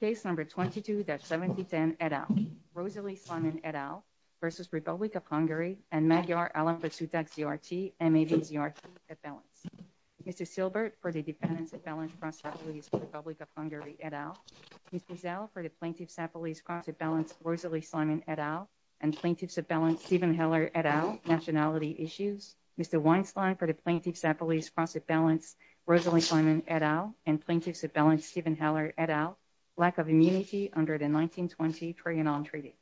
Case number 22-7010 et al. Rosalie Simon et al versus Republic of Hungary and Magyar Alambasutak GRT and Magyar GRT at balance. Mr. Silbert for the defendant at balance from Republic of Hungary et al. Mrs. L for the plaintiff's at police cross at balance Rosalie Simon et al and plaintiff's at balance Stephen Heller et al nationality issues. Mr. Weinstein for the plaintiff's at police cross at balance Rosalie Simon et al and plaintiff's at balance Stephen Heller et al. Lack of immunity under the 1920 Trianon Treaty.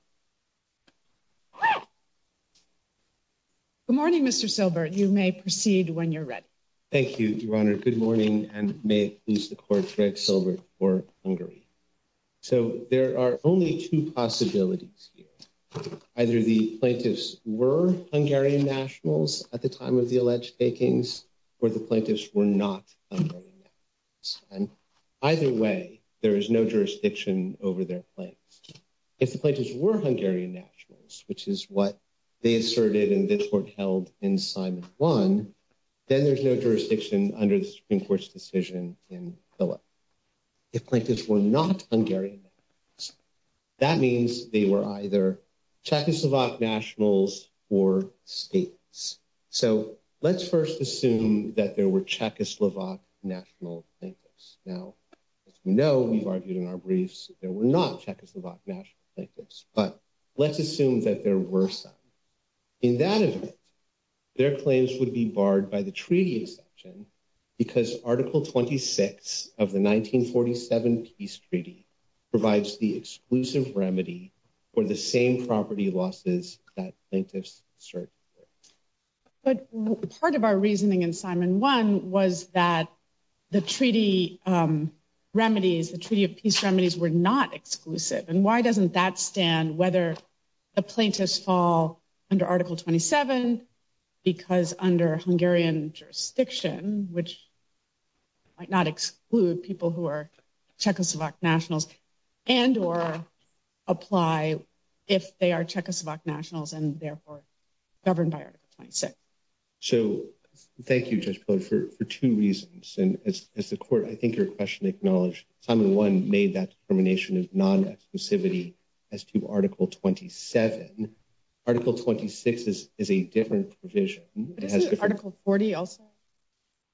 Good morning Mr. Silbert. You may proceed when you're ready. Thank you Your Honor. Good morning and may it please the court that Silbert for Hungary. So there are only two possibilities here. Either the plaintiffs were Hungarian nationals at the time of the alleged takings or the plaintiffs were not and either way there is no jurisdiction over their claims. If the plaintiffs were Hungarian nationals which is what they asserted and this court held in Simon 1 then there's no jurisdiction under the Supreme Court's decision in Philip. If plaintiffs were not Hungarian that means they were either Czechoslovak nationals or states. So let's first assume that there were Czechoslovak national plaintiffs. Now as we know we've argued in our briefs there were not Czechoslovak national plaintiffs but let's assume that there were some. In that event their claims would be barred by the treaty section because article 26 of the 1947 peace treaty provides the exclusive remedy for the same property losses that plaintiffs assert. But part of our reasoning in Simon 1 was that the treaty remedies the treaty of peace remedies were not exclusive and why doesn't that stand whether the plaintiffs fall under article 27 because under Hungarian jurisdiction which might not exclude people who are Czechoslovak nationals and or apply if they are Czechoslovak nationals and therefore governed by article 26. So thank you Judge Poehler for two reasons and as the court I think your question acknowledged Simon 1 made that determination as non-exclusivity as to article 27. Article 26 is a different provision. Article 40 also?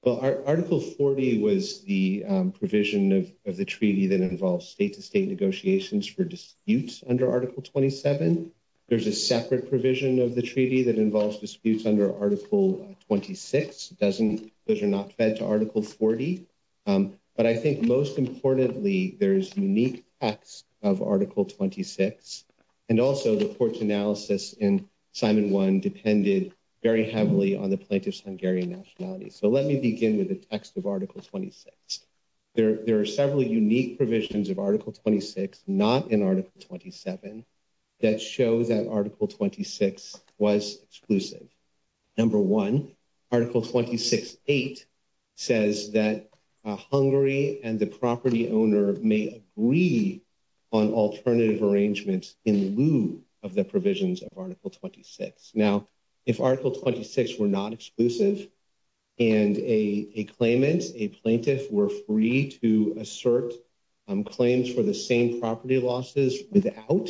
Well article 40 was the provision of the treaty that involves state-to-state negotiations for disputes under article 27. There's a separate provision of the treaty that involves disputes under article 26 doesn't those are not fed to article 40. But I think most importantly there's unique facts of article 26 and also the court's analysis in Simon 1 depended very heavily on the plaintiff's Hungarian nationality. So let me begin with the text of article 26. There are several unique provisions of article 26 not in article 27 that show that article 26 was exclusive. Number one article 26.8 says that Hungary and the property owner may agree on alternative arrangements in lieu of the provisions of article 26. Now if article 26 were not exclusive and a claimant a plaintiff were free to assert claims for the same property losses without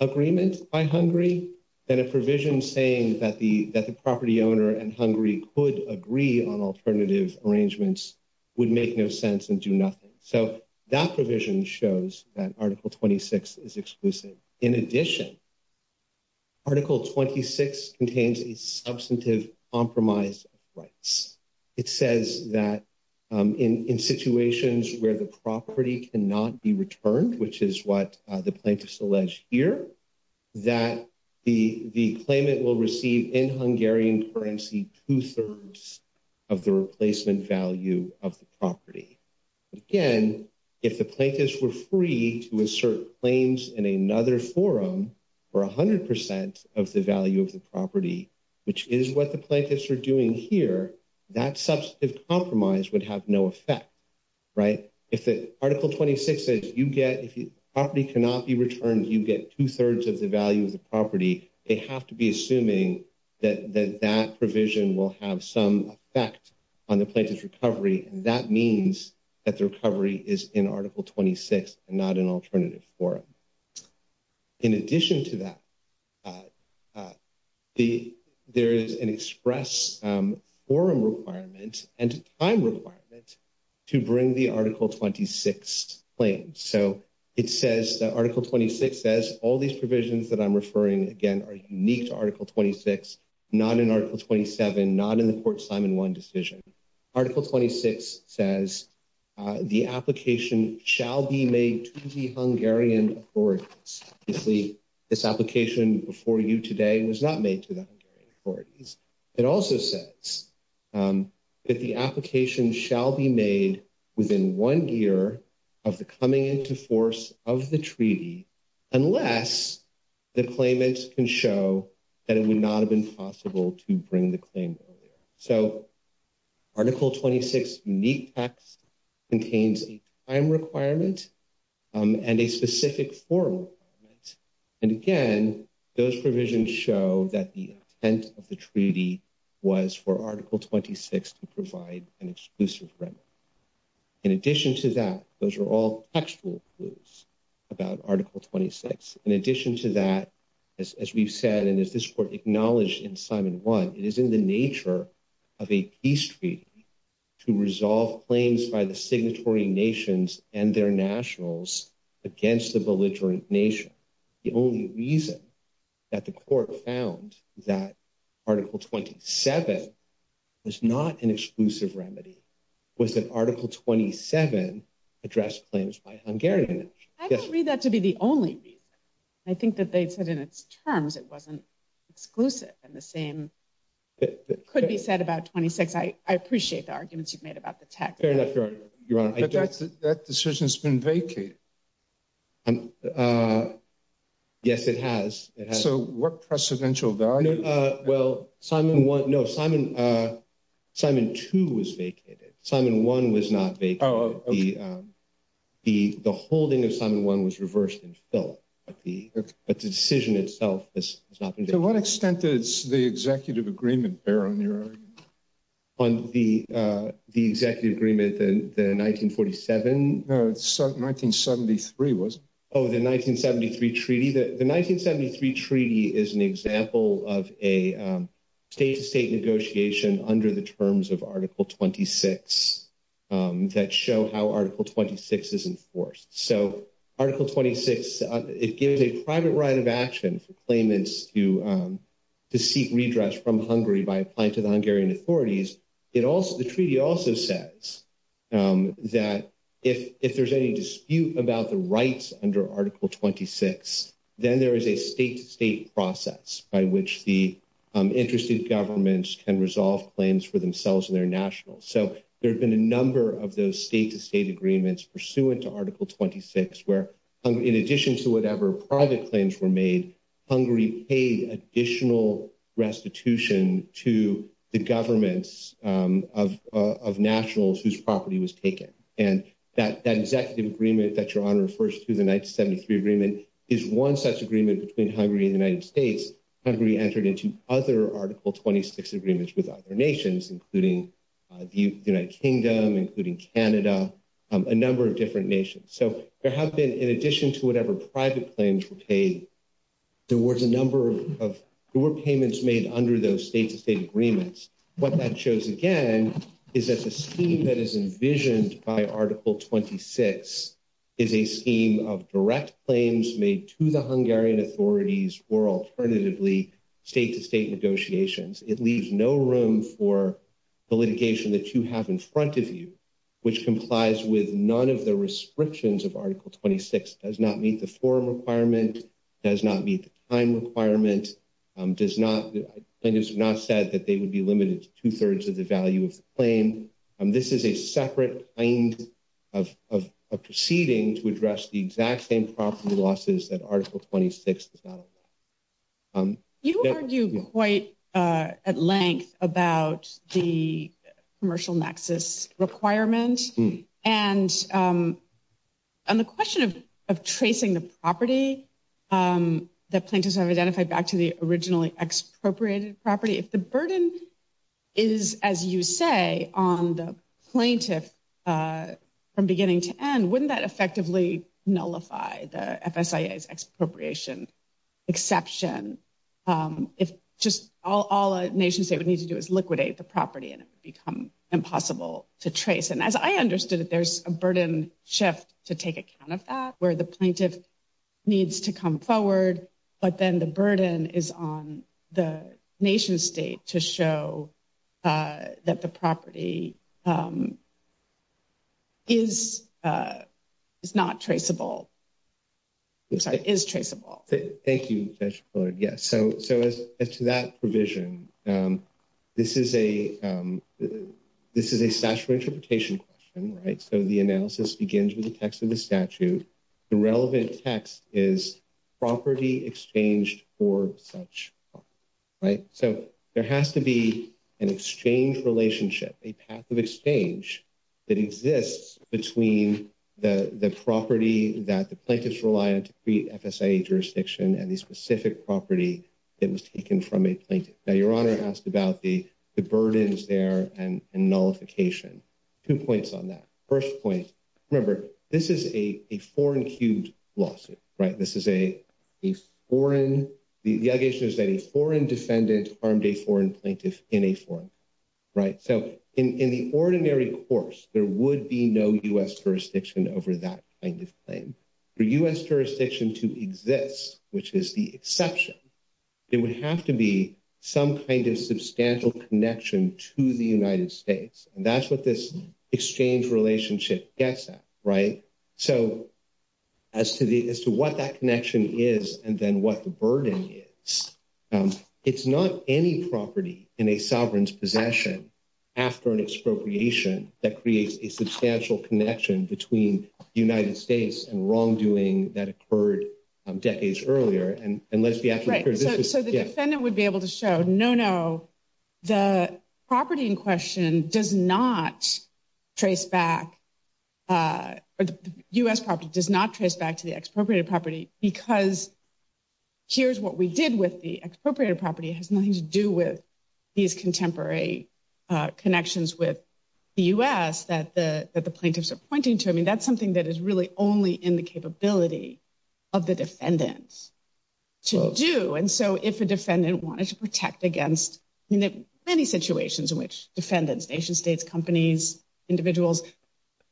agreement by Hungary then a provision saying that the that the property owner and Hungary could agree on alternative arrangements would make no sense and do nothing. So that provision shows that article 26 is exclusive. In addition article 26 contains a substantive compromise of rights. It says that in in situations where the property cannot be returned which is what the plaintiff's alleged here that the the claimant will receive in Hungarian currency two-thirds of the replacement value of the property. Again if the plaintiffs were free to assert claims in another forum for a hundred percent of the value of the property which is what the plaintiffs are doing here that substantive compromise would have no effect right. If it article 26 says you get if you property cannot be returned you get two-thirds of the value of the property they have to be assuming that that provision will have some effect on the plaintiff's recovery and that means that the recovery is in article 26 and not an alternative forum. In addition to that the there is an express forum requirement and time requirement to bring the article 26 claims. So it says that article 26 says all these provisions that I'm referring again are unique to article 26 not in article 27 not in the court Simon 1 decision. Article 26 says the application shall be made to the Hungarian authorities. Obviously this application before you today was not made to the authorities. It also says that the application shall be made within one year of the coming into force of the treaty unless the claimants can show that it would not have been possible to bring the claim earlier. So article 26 unique facts contains a time requirement and a specific forum and again those provisions show that the intent of the treaty was for article 26 to provide an exclusive remedy. In addition to that those are all factual clues about article 26. In addition to that as we've said and as this court acknowledged in Simon 1 it is in the nature of a peace treaty to resolve claims by the signatory nations and their nationals against the belligerent nation. The only reason that the court found that article 27 was not an exclusive remedy was that article 27 addressed claims by Hungarian. I don't read that to be the only reason. I think that they said in its terms it wasn't exclusive and the same could be said about 26. I appreciate the arguments you've made about the text. Fair enough. That decision's been vacated. Yes it has. So what precedential value? Well Simon 1 no Simon Simon 2 was vacated. Simon 1 was not vacated. The holding of Simon 1 was reversed and filled but the decision itself has not been. To what extent does the executive agreement bear on your on the executive agreement the 1947? No it's 1973 wasn't it? Oh the 1973 treaty. The 1973 treaty is an example of a state-to-state negotiation under the terms of article 26 that show how article 26 is enforced. So article 26 it gives a private right of action for claimants to seek redress from Hungary by applying to the Hungarian authorities. The treaty also says that if there's any dispute about the rights under article 26 then there is a state-to-state process by which the interested governments can resolve claims for themselves and their nationals. So there's been a number of those state-to-state agreements pursuant to article 26 where in addition to whatever private claims were made Hungary paid additional restitution to the governments of nationals whose property was taken. And that executive agreement that your honor refers to the 1973 agreement is one such agreement between Hungary and the United States. Hungary entered into other article 26 agreements with other nations including the United Kingdom, including Canada, a number of different nations. So there have been in addition to whatever private claims were paid there was a number of payments made under those state-to-state agreements. What that shows again is that the scheme that is envisioned by article 26 is a scheme of direct claims made to the Hungarian authorities or alternatively state-to-state negotiations. It leaves no room for the litigation that you have in front of you which complies with none of the restrictions of article 26. It does not meet the form requirement, does not meet the time requirement, and it is not said that they would be limited to two-thirds of the value of the claim. This is a separate kind of proceeding to address the exact same property losses that article 26 is about. You argued quite at length about the commercial nexus requirement and the question of tracing the property that plaintiffs have identified back to the originally expropriated property. If the burden is as you say on the plaintiff from beginning to end wouldn't that effectively nullify the FSIA's expropriation exception? If just all a nation state would need to do is liquidate the property and it would become impossible to trace. And as I understood that there's a burden shift to take account of that where the plaintiff needs to come forward but then the burden is on the nation state to show that the property is not traceable, is traceable. Thank you. So it's that provision. This is a statute of interpretation question. So the analysis begins with the text of the statute. The relevant text is property exchanged for such. So there has to be an exchange relationship, a path of exchange that exists between the property that the plaintiffs rely on to create FSIA jurisdiction and the specific property that was taken from a plaintiff. Now your honor asked about the burdens there and nullification. Two points on that. First point, remember this is a foreign huge lawsuit, right? This is a foreign, the allegation is that a foreign defendant armed a foreign plaintiff in a foreign court, right? So in the ordinary course there would be no U.S. jurisdiction over that kind of thing. For U.S. jurisdiction to exist, which is the exception, there would have to be some kind of substantial connection to the United States. And that's what this exchange relationship gets at, right? So as to what that connection is and then what the burden is, it's not any property in a sovereign's possession after an expropriation that creates a substantial connection between the United States and wrongdoing that occurred decades earlier. So the defendant would be able to show, no, no, the property in question does not trace back, U.S. property does not trace back to the expropriated property because here's what we did with the expropriated property has nothing to do with these contemporary connections with the U.S. that the plaintiffs are pointing to. I mean, that's something that is really only in the capability of the defendants to do. And so if a defendant wanted to protect against, I mean, there are many situations in which defendants, nation states, companies, individuals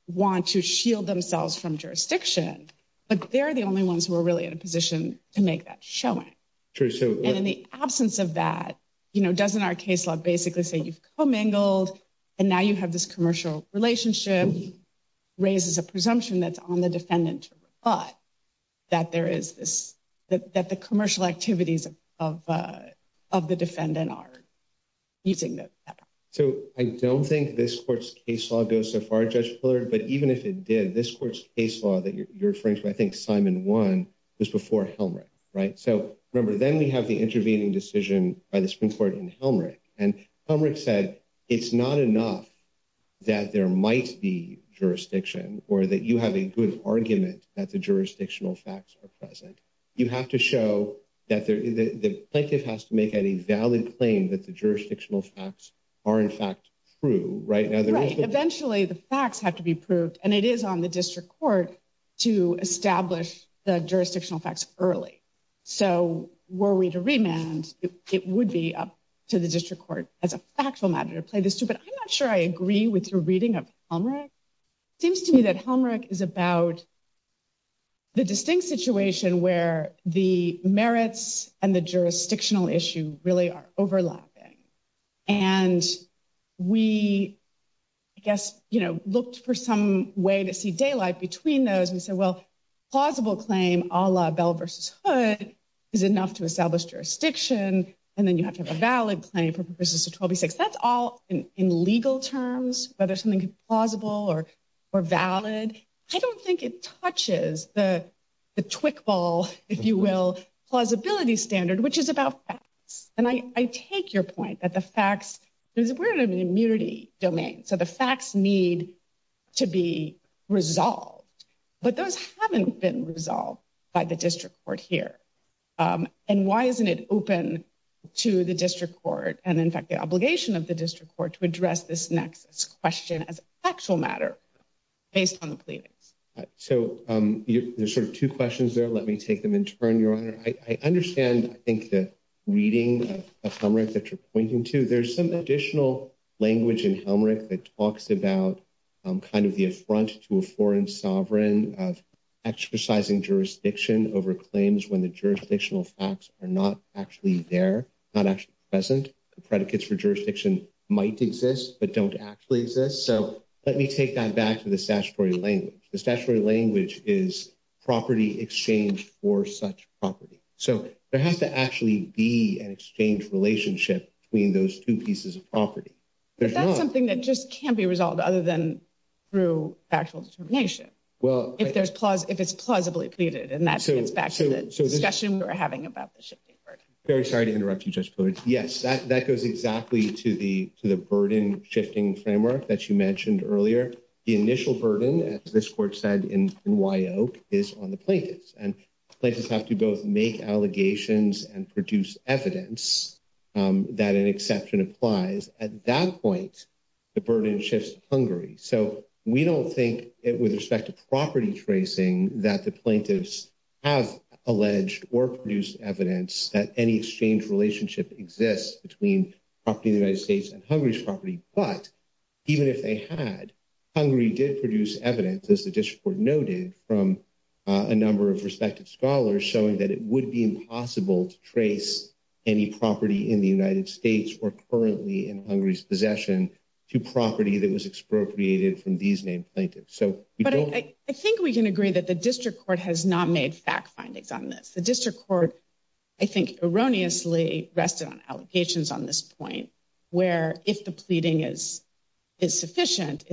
want to shield themselves from jurisdiction, but they're the only ones who are really in a position to make that showing. And in the absence of that, you know, doesn't our case law basically say you've commingled and now you have this commercial relationship raises a presumption that's on the defendant's butt that there is this, that the commercial activities of the defendant are using those. So I don't think this court's case law goes so far, Judge Pillard, but even if it did, this court's case law that you're referring to, I think Simon one is before Helmrich, right? So remember, then we have the intervening decision by the Supreme Court and Helmrich and Helmrich said, it's not enough that there might be jurisdiction or that you have a good argument that the jurisdictional facts are present. You have to show that the plaintiff has to make any valid claim that the jurisdictional facts are in fact true, right? Eventually the facts have to be proved and it is on the district court to establish the jurisdictional facts early. So were we to remand, it would be up to the district court as a factual matter to play But I'm not sure I agree with your reading of Helmrich. It seems to me that Helmrich is about the distinct situation where the merits and the jurisdictional issue really are overlapping. And we, I guess, you know, looked for some way to see daylight between those and said, well, plausible claim a la Bell v. Hood is enough to establish jurisdiction and then you have to have in legal terms, whether something is plausible or valid. I don't think it touches the the twig ball, if you will, plausibility standard, which is about facts. And I take your point that the facts, we're in an immunity domain. So the facts need to be resolved, but those haven't been resolved by the district court here. And why isn't it open to the district court? And in fact, obligation of the district court to address this next question as a factual matter based on the claim. So there's sort of two questions there. Let me take them in turn, your honor. I understand, I think, the reading of the Helmrich that you're pointing to. There's some additional language in Helmrich that talks about kind of the affront to a foreign sovereign of exercising jurisdiction over claims when the jurisdictional facts are not actually there, not actually present. The predicates for jurisdiction might exist but don't actually exist. So let me take that back to the statutory language. The statutory language is property exchanged for such property. So there has to actually be an exchange relationship between those two pieces of property. But that's something that just can't be resolved other than through factual determination. Well, if there's, if it's plausibly pleaded and that's the discussion we were having about the that goes exactly to the burden shifting framework that you mentioned earlier. The initial burden, as this court said in WYO, is on the plaintiffs. And plaintiffs have to both make allegations and produce evidence that an exception applies. At that point, the burden shifts to Hungary. So we don't think, with respect to property tracing, that the plaintiffs have alleged or produced evidence that any exchange relationship exists between property in the United States and Hungary's property. But even if they had, Hungary did produce evidence, as the district court noted, from a number of respective scholars showing that it would be impossible to trace any property in the United States or currently in Hungary's possession to property that was expropriated from these named plaintiffs. But I think we can agree that the district court has not made fact findings on this. The district court, I think, erroneously rested on allegations on this point, where if the pleading is sufficient,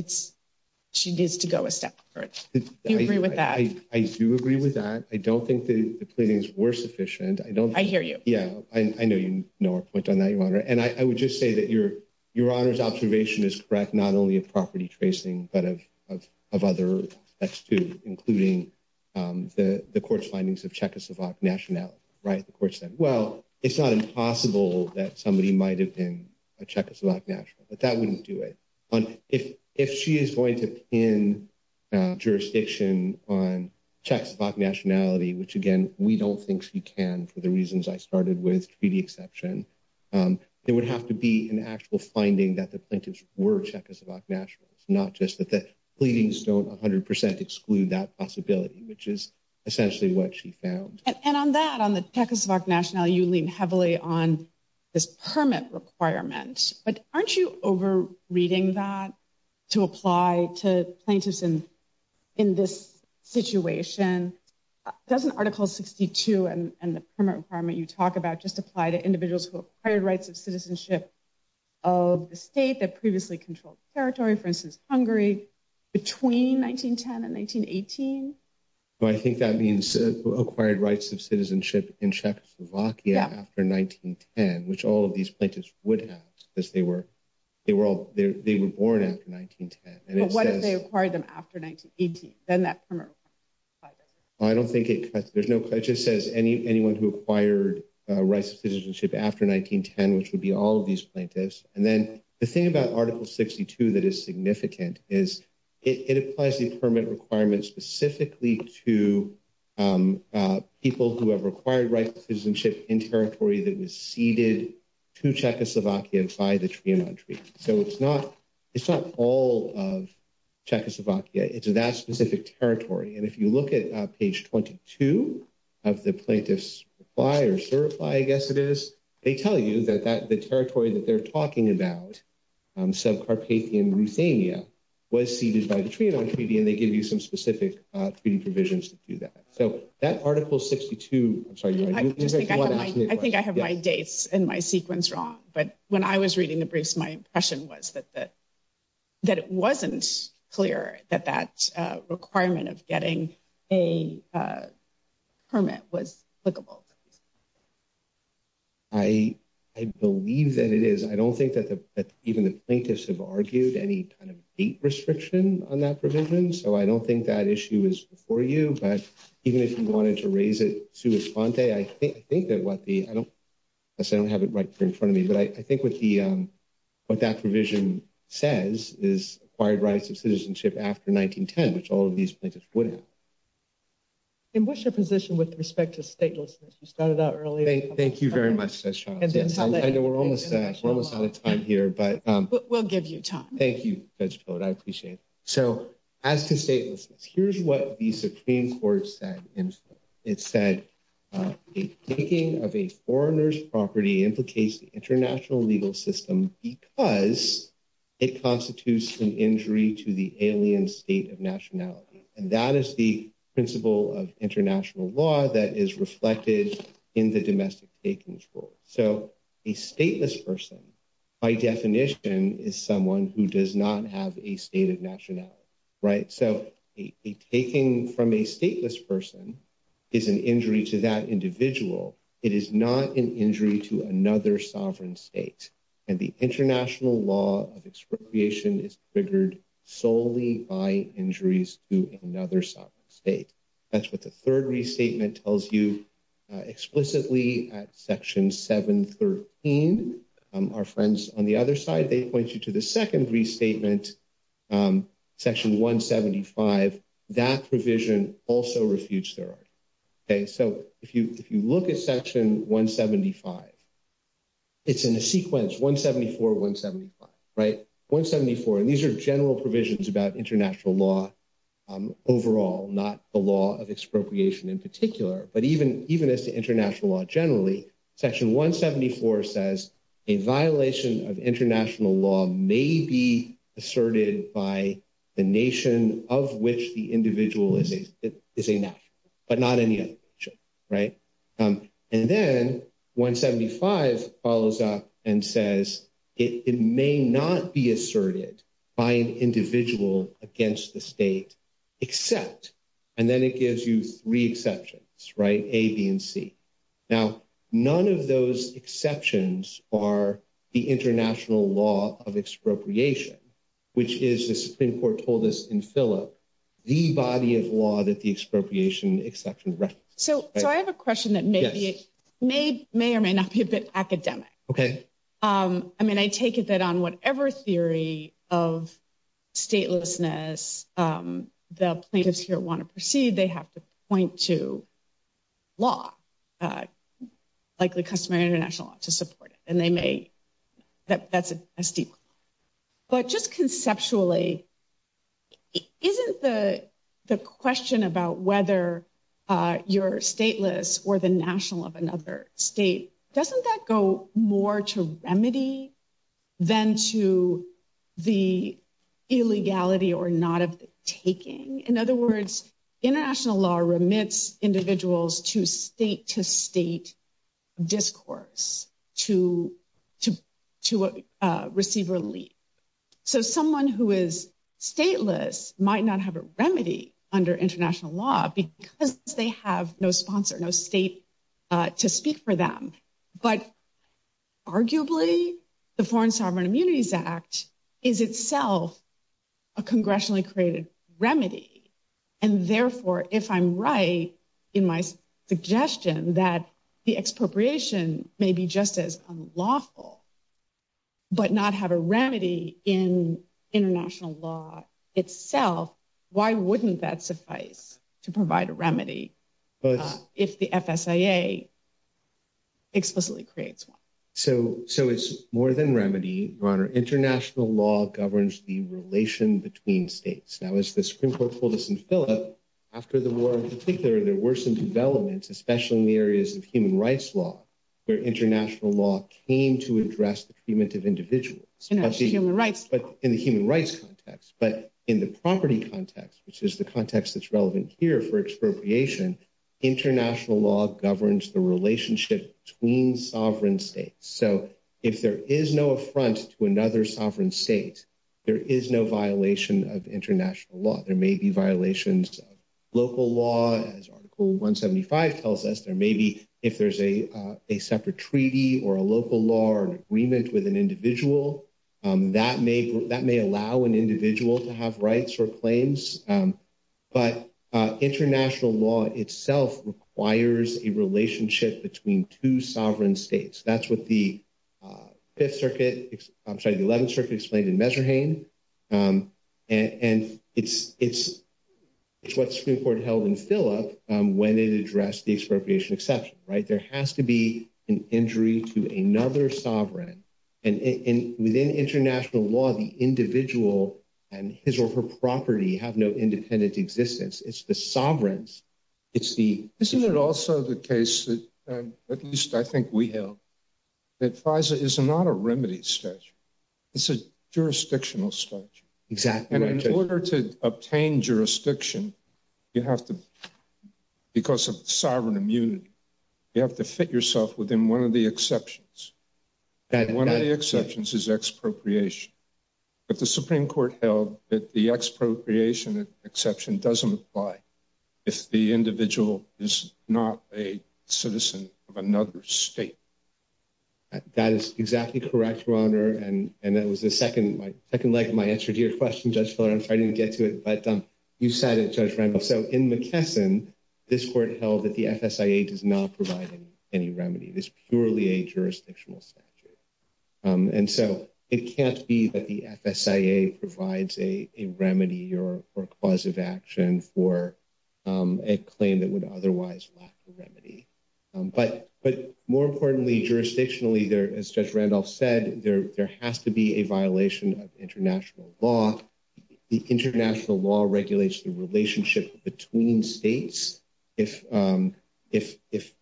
she needs to go a step further. Do you agree with that? I do agree with that. I don't think the pleadings were sufficient. I hear you. Yeah. I know you know our point on that, Your Honor. And I would just say that Your Honor's property tracing, but of other, that's true, including the court's findings of Czechoslovak nationality, right? The court said, well, it's not impossible that somebody might have been a Czechoslovak national, but that wouldn't do it. If she is going to pin jurisdiction on Czechoslovak nationality, which again, we don't think she can, for the reasons I started with, to the exception, it would have to be an actual finding that the plaintiffs were Czechoslovak nationals, not just that the pleadings don't 100% exclude that possibility, which is essentially what she found. And on that, on the Czechoslovak nationality, you lean heavily on this permit requirement. But aren't you over-reading that to apply to plaintiffs in this situation? Doesn't Article 62 and the permit requirement you talk about just apply to individuals who acquired rights of citizenship of the state that previously controlled the territory, for instance, Hungary, between 1910 and 1918? I think that means acquired rights of citizenship in Czechoslovakia after 1910, which all of these plaintiffs would have, because they were born after 1910. What if they acquired them after 1918? I don't think there's no, it just says anyone who acquired rights of citizenship after 1910, which would be all of these plaintiffs. And then the thing about Article 62 that is significant is it applies the permit requirements specifically to people who have acquired rights of citizenship in territory that was ceded to Czechoslovakia by the Trianon Treaty. So it's not, it's not all of Czechoslovakia. It's that specific territory. And if you look at page 22 of the plaintiff's reply or certify, I guess it is, they tell you that the territory that they're talking about, sub-Carpathian Ruthenia, was ceded by the Trianon Treaty, and they give you some specific treaty provisions to do that. So that Article 62, I'm sorry. I think I have my dates and my sequence wrong. But when I was reading the briefs, my impression was that it wasn't clear that that requirement of getting a permit was applicable. I believe that it is. I don't think that even the plaintiffs have argued any kind of date restriction on that provision. So I don't think that issue is before you. But even if you wanted to raise it to respond today, I think that what the, I don't have it right there in front of me. But I think what the, what that provision says is acquired rights of citizenship after 1910, which all of these plaintiffs would have. And what's your position with respect to statelessness? You started out earlier. Thank you very much, Judge Chauncey. I know we're almost out of time here. But we'll give you time. Thank you, Judge Bode. I appreciate it. So as to statelessness, here's what the Supreme Court said. It said, a taking of a foreigner's property implicates the international legal system because it constitutes an injury to the alien state of nationality. And that is the principle of international law that is reflected in the domestic takings court. So a stateless person, by definition, is someone who does not have a state of nationality, right? So a taking from a stateless person is an injury to that individual. It is not an injury to another sovereign state. And the international law of expropriation is triggered solely by injuries to another sovereign state. That's what the third restatement tells you explicitly at Section 713. Our friends on the other side, they point you to the second restatement, Section 175. That provision also refutes their own. Okay? So if you look at Section 175, it's in the sequence 174, 175, right? 174. And these are general provisions about international law overall, not the law of expropriation in particular. But even as to international law generally, Section 174 says a violation of international law may be asserted by the nation of which the individual is a national, but not any other nation, right? And then 175 follows up and says it may not be asserted by an individual against the state except, and then it gives you three exceptions, right? A, B, and C. Now, none of those exceptions are the international law of expropriation, which is, as the Supreme Court told us in Phillips, the body of law that the expropriation exception rests. So I have a question that may or may not be a bit academic. Okay. I mean, I take it that on whatever theory of statelessness the plaintiffs here want to proceed, they have to point to law. Like the customary international law to support it. And they may, that's a secret. But just conceptually, isn't the question about whether you're stateless or the national of another state, doesn't that go more to remedy than to the illegality or not of the taking? In other words, international law remits individuals to state-to-state discourse to receive relief. So someone who is stateless might not have a remedy under international law because they have no sponsor, no state to speak for them. But arguably, the Foreign Sovereign Immunities Act is itself a congressionally created remedy. And therefore, if I'm right in my suggestion that the expropriation may be just as unlawful, but not have a remedy in international law itself, why wouldn't that suffice to provide a remedy? If the FSIA explicitly creates one. So it's more than remedy, Ronna. International law governs the relation between states. Now, as the Supreme Court told us in Philip, after the war in particular, there were some developments, especially in the areas of human rights law, where international law came to address the treatment of individuals. In the human rights context. But in the property context, which is the context that's relevant here for expropriation, international law governs the relationship between sovereign states. So if there is no affront to another sovereign state, there is no violation of international law. There may be violations of local law, as Article 175 tells us, or maybe if there's a separate treaty or a local law or agreement with an individual, that may allow an individual to have rights or claims. But international law itself requires a relationship between two sovereign states. That's what the Fifth Circuit, I'm sorry, the Eleventh Circuit explained in Messerhain. And it's what Supreme Court held in Philip when it addressed the expropriation exception, right? Injury to another sovereign. And within international law, the individual and his or her property have no independent existence. It's the sovereigns. It's the... Isn't it also the case, at least I think we know, that FISA is not a remedy statute. It's a jurisdictional statute. Exactly. And in order to obtain jurisdiction, you have to, because of sovereign immunity, you have to fit yourself within one of the exceptions. One of the exceptions is expropriation. But the Supreme Court held that the expropriation exception doesn't apply if the individual is not a citizen of another state. That is exactly correct, Your Honor. And that was the second leg of my answer to your question, just so I didn't get to it. But you said it, Judge Randolph. So in McKesson, this court held that the FSIA does not provide any remedy. It's purely a jurisdictional statute. And so it can't be that the FSIA provides a remedy or a cause of action for a claim that would otherwise lack the remedy. But more importantly, jurisdictionally, as Judge Randolph said, there has to be a violation of international law. The international law regulates the relationship between states. If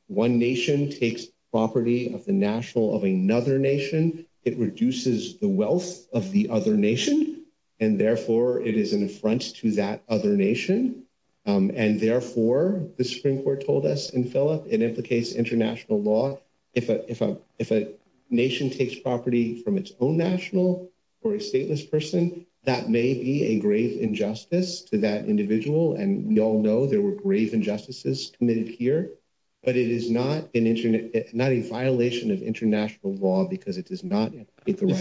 one nation takes property of the national of another nation, it reduces the wealth of the other nation. And therefore, it is in front to that other nation. And therefore, the Supreme Court told us in Phillips, it implicates international law. If a nation takes property from its own national or a stateless person, that may be a grave injustice to that individual. And we all know there were grave injustices committed here. But it is not in violation of international law because it does not. Before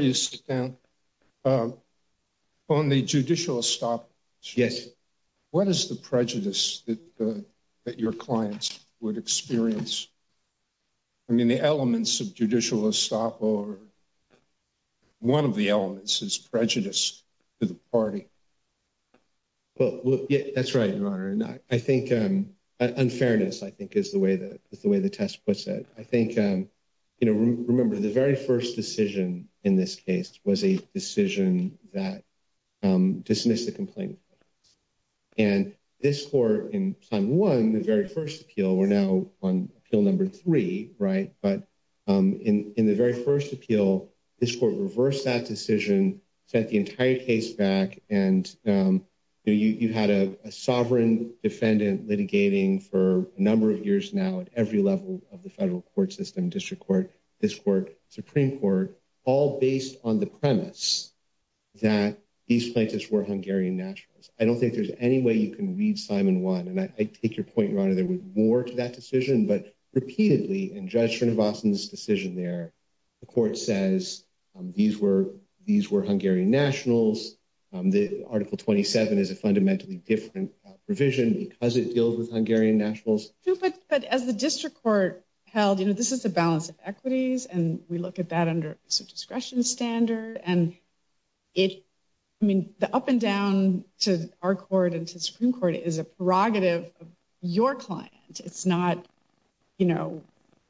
you stand, on the judicial stop, what is the prejudice that your clients would experience I mean, the elements of judicial stopover. One of the elements is prejudice to the party. Well, that's right, Your Honor. I think unfairness, I think, is the way that the way the test puts it. I think, you know, remember the very first decision in this case was a decision that dismissed the complaint. And this court, in time one, the very first appeal, we're now on appeal number three, right? But in the very first appeal, this court reversed that decision, sent the entire case back. And you had a sovereign defendant litigating for a number of years now at every level of the federal court system, district court, district court, Supreme Court, all based on the premise that these places were Hungarian nationals. I don't think there's any way you can read time in one. And I take your point, Your Honor, there was more to that decision. But repeatedly, in Judge Srinivasan's decision there, the court says these were Hungarian nationals. The Article 27 is a fundamentally different provision because it deals with Hungarian nationals. But as the district court held, you know, this is a balance of equities. And we look at that under a discretion standard. And I mean, the up and down to our court and to the Supreme Court is a prerogative of your client. It's not, you know,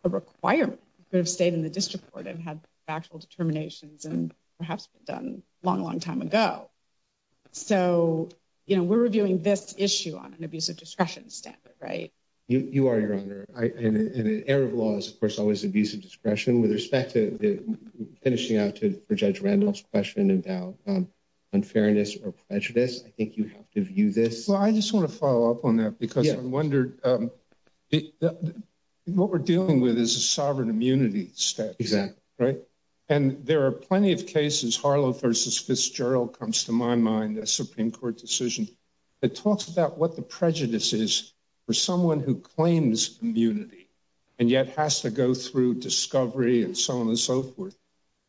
a requirement for the state and the district court to have factual determinations and perhaps done a long, long time ago. So, you know, we're reviewing this issue on an abusive discretion standard, right? You are, Your Honor, and in Arab laws, of course, always abusive discretion with respect to finishing out to Judge Randolph's question about unfairness or prejudice. I think you have to view this. Well, I just want to follow up on that because I wondered what we're dealing with is a sovereign immunity step. Exactly. Right. And there are plenty of cases, Harlow v. Fitzgerald comes to my mind, a Supreme Court decision that talks about what the prejudice is for someone who claims immunity and yet has to go through discovery and so on and so forth.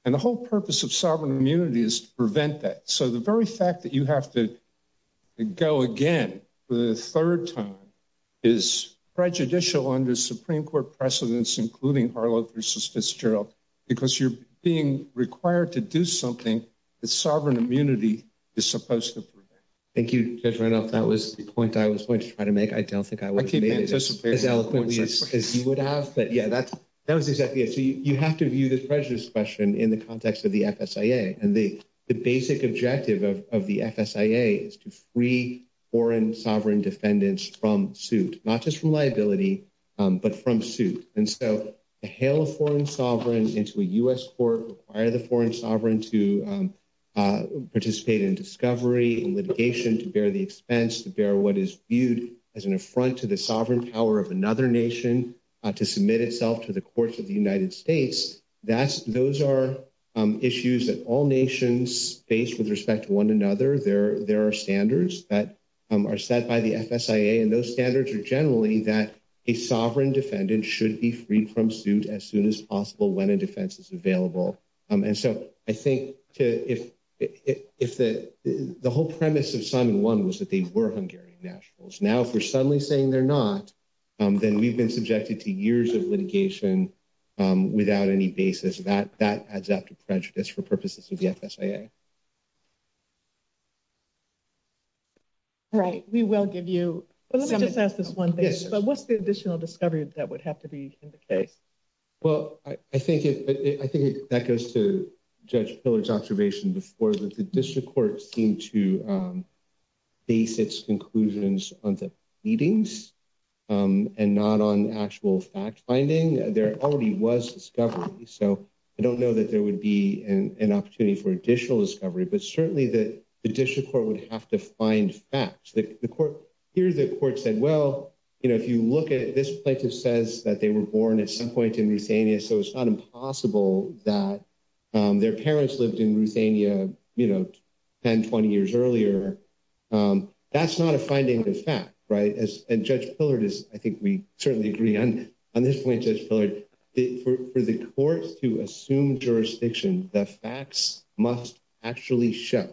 And the whole purpose of sovereign immunity is to prevent that. So the very fact that you have to go again for the third time is prejudicial under Supreme Court precedents, including Harlow v. Fitzgerald, because you're being required to do something that sovereign immunity is supposed to prevent. Thank you, Judge Randolph. That was the point that I was going to try to make. I don't think I would have made it as eloquently as you would have. But yeah, that was exactly it. So you have to view the prejudice question in the context of the FSIA. And the basic objective of the FSIA is to free foreign sovereign defendants from suit, not just from liability, but from suit. And so to hail a foreign sovereign into a U.S. court, require the foreign sovereign to participate in discovery and litigation, to bear the expense, to bear what is viewed as an affront to the sovereign power of another nation, to submit itself to the courts of the United States, those are issues that all nations face with respect to one another. There are standards that are set by the FSIA. And those standards are generally that a sovereign defendant should be freed from suit as soon as possible when a defense is available. And so I think the whole premise of Simon 1 was that they were Hungarian nationals. Now, if you're suddenly saying they're not, then we've been subjected to years of litigation without any basis. That adds up to prejudice for purposes of the FSIA. All right. We will give you some advice on this. But what's the additional discovery that would have to be indicated? Well, I think that goes to Judge Pillard's observation before, that the district courts seem to base its conclusions on the readings and not on actual fact-finding. There already was discovery. So I don't know that there would be an opportunity for additional discovery. But certainly, the district court would have to find facts. Here, the court said, well, if you look at this place, it says that they were born at some point in Ruthania. So it's not impossible that their parents lived in Ruthania 10, 20 years earlier. That's not a finding of fact, right? And Judge Pillard is, I think we certainly agree on this point, Judge Pillard, for the court to assume jurisdiction, the facts must actually show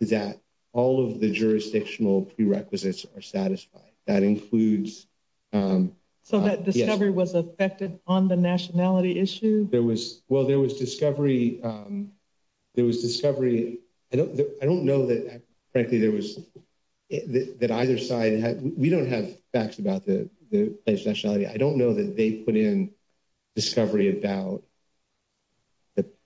that all of the jurisdictional prerequisites are satisfied. That includes... So that discovery was affected on the nationality issue? There was, well, there was discovery. There was discovery. I don't know that, frankly, there was, that either side had, we don't have facts about the place nationality. I don't know that they put in discovery about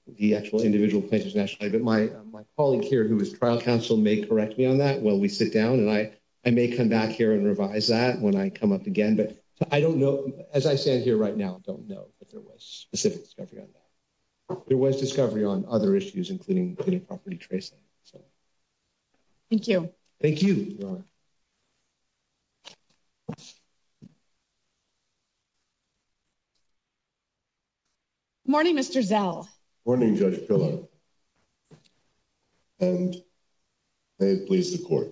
the actual individual places nationally. But my colleague here who is trial counsel may correct me on that when we sit down. And I may come back here and revise that when I come up again. But I don't know, as I stand here right now, I don't know if there was specific discovery on that. There was discovery on other issues, including property tracing. So... Thank you. Thank you. Good morning, Mr. Zell. Good morning, Judge Pillard. And may it please the court.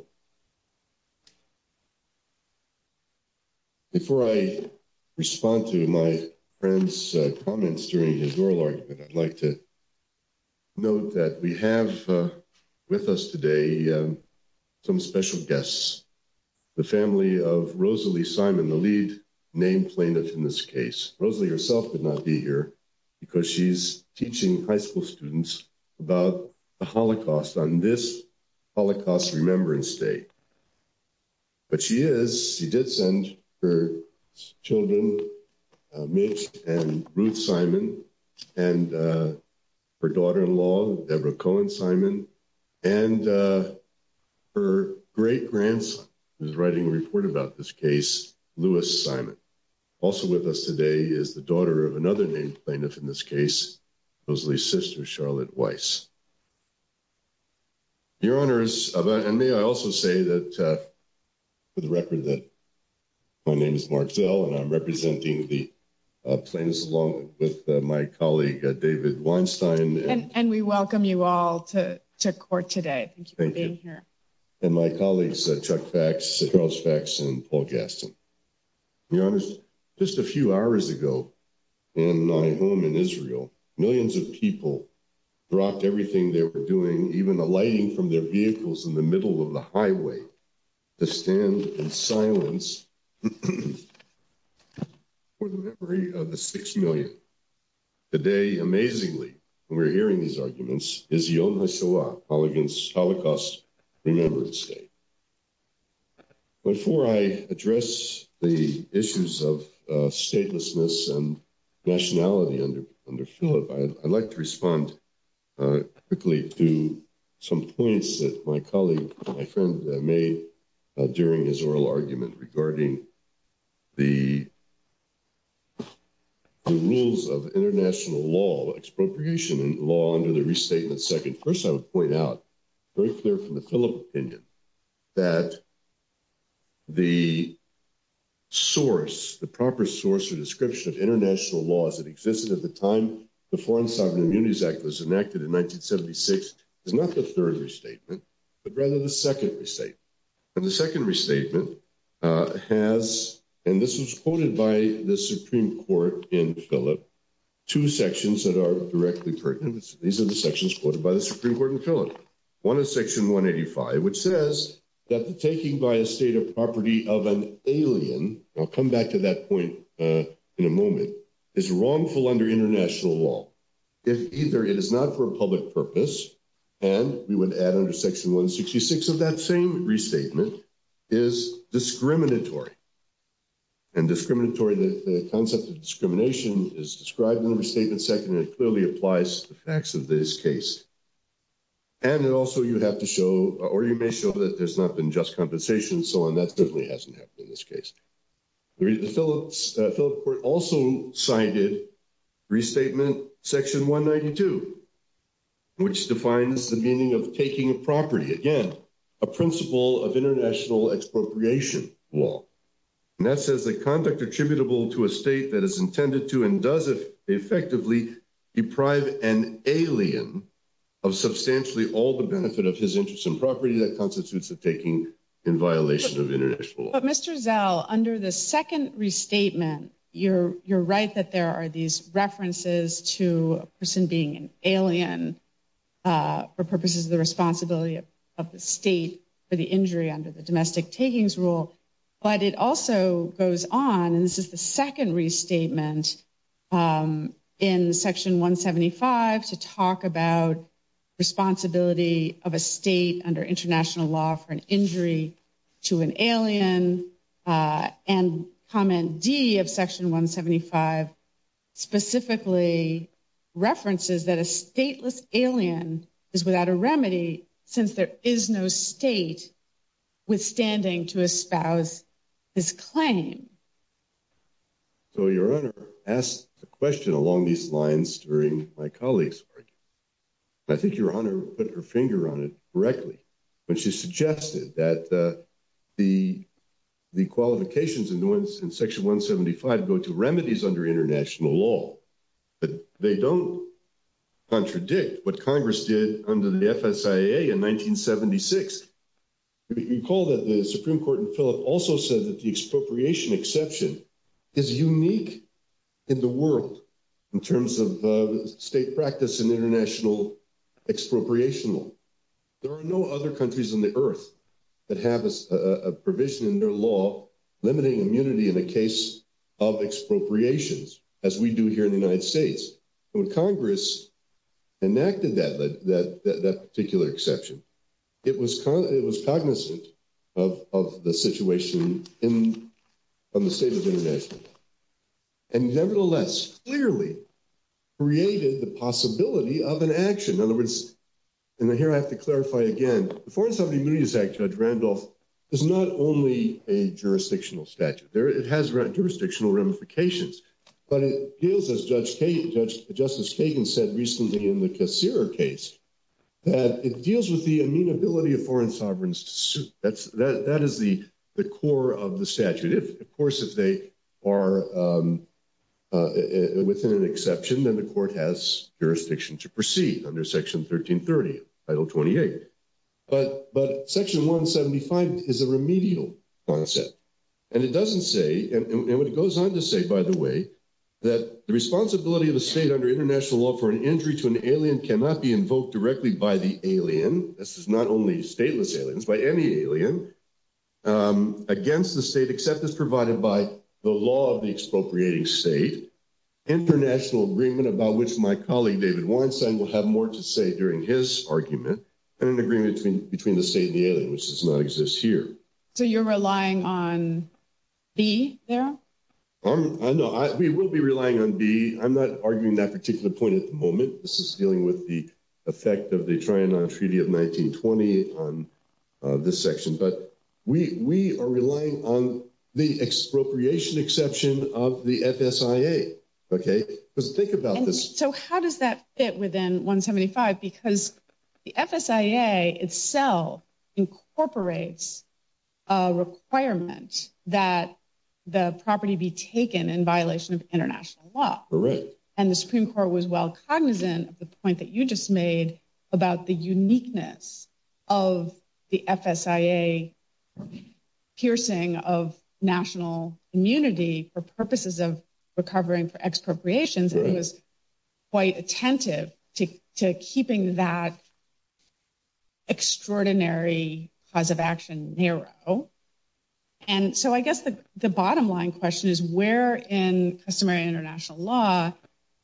Before I respond to my friend's comments during his oral argument, I'd like to note that we have with us today some special guests. The family of Rosalie Simon, the lead name plaintiff in this case. Rosalie herself could not be here because she's teaching high school students about the Holocaust on this Holocaust Remembrance Day. But she is, she did send her children, Mitch and Ruth Simon, and her daughter-in-law, Deborah Cohen Simon, and her great-grandson, who's writing a report about this case, Lewis Simon. Also with us today is the daughter of another named plaintiff in this case, Rosalie's sister, Charlotte Weiss. Your Honors, may I also say that to represent, my name is Mark Zell, and I'm representing the plaintiffs along with my colleague, David Weinstein. And we welcome you all to court today. Thank you for being here. And my colleagues, Chuck Fax, and Paul Gaston. Your Honors, just a few hours ago in my home in Israel, millions of people rocked everything they were doing, even the lighting from their vehicles in the middle of the highway, the stand in silence, for the memory of the six million. Today, amazingly, when we're hearing these arguments, is Yom HaShoah, called against Holocaust Remembrance Day. Before I address the issues of statelessness and nationality under Philip, I'd like to respond quickly to some points that my colleague, my friend, made during his oral argument regarding the rules of international law, expropriation law, under the Restatement Second. First, I would point out, very clear from the Philip opinion, that the source, the proper source or description of international law as it existed at the time the Foreign Sovereign Immunities Act was enacted in 1976, is not the third restatement, but rather the second restatement. And the second restatement has, and this was quoted by the Supreme Court in Philip, two sections that are directly pertinent. These are the sections quoted by the Supreme Court in Philip. One is Section 185, which says that the taking by a state of property of an alien, I'll come back to that point in a moment, is wrongful under international law. If either it is not for a public purpose, and we would add under Section 166 of that same restatement, is discriminatory. And discriminatory, the concept of discrimination is described in the Restatement Second, and it clearly applies to the facts of this case. And also you have to show, or you may show that there's not been just compensation, so on, that definitely hasn't happened in this case. The Philip Court also cited Restatement Section 192, which defines the meaning of taking a principle of international expropriation law. And that says the conduct attributable to a state that is intended to and does effectively deprive an alien of substantially all the benefit of his interest in property that constitutes a taking in violation of international law. But Mr. Zell, under the second restatement, you're right that there are these references to a person being an alien for purposes of the responsibility of the state for the injury under the domestic takings rule. But it also goes on, and this is the second restatement in Section 175, to talk about responsibility of a state under international law for an injury to an alien. And Comment D of Section 175 specifically references that a stateless alien is without a remedy since there is no state withstanding to espouse this claim. So, Your Honor asked the question along these lines during my colleague's argument, and I think Your Honor put her finger on it correctly. When she suggested that the qualifications in Section 175 go to remedies under international law, but they don't contradict what Congress did under the FSIA in 1976. Recall that the Supreme Court in Phillip also said that the expropriation exception is unique in the world in terms of state practice and international expropriation law. There are no other countries in the earth that have a provision in their law limiting immunity in the case of expropriations as we do here in the United States. When Congress enacted that particular exception, it was cognizant of the situation in the state of international law and nevertheless clearly created the possibility of an action. In other words, and here I have to clarify again, the Foreign Sovereign Immunities Act, Judge Randolph, is not only a jurisdictional statute. It has jurisdictional ramifications, but it deals, as Justice Kagan said recently in the Kassirer case, that it deals with the amenability of foreign sovereigns. That is the core of the statute. Of course, if they are within an exception, then the court has jurisdiction to proceed under Section 1330, Title 28, but Section 175 is a remedial concept, and it doesn't say, and it goes on to say, by the way, that the responsibility of the state under international law for an entry to an alien cannot be invoked directly by the alien. This is not only stateless aliens, but any alien against the state except as provided by the law of the expropriating state. International agreement about which my colleague David Warrenson will have more to say during his argument and an agreement between the state and the aliens does not exist here. So you're relying on B there? No, we will be relying on B. I'm not arguing that particular point at the moment. This is dealing with the effect of the Triennale Treaty of 1920 on this section, but we are relying on the expropriation exception of the FSIA, okay? So think about this. So how does that fit within 175? Because the FSIA itself incorporates a requirement that the property be taken in violation of international law, and the Supreme Court was well cognizant of the point that you just made about the uniqueness of the FSIA piercing of national immunity for purposes of recovering for expropriations. It was quite attentive to keeping that extraordinary cause of action narrow. And so I guess the bottom line question is where in customary international law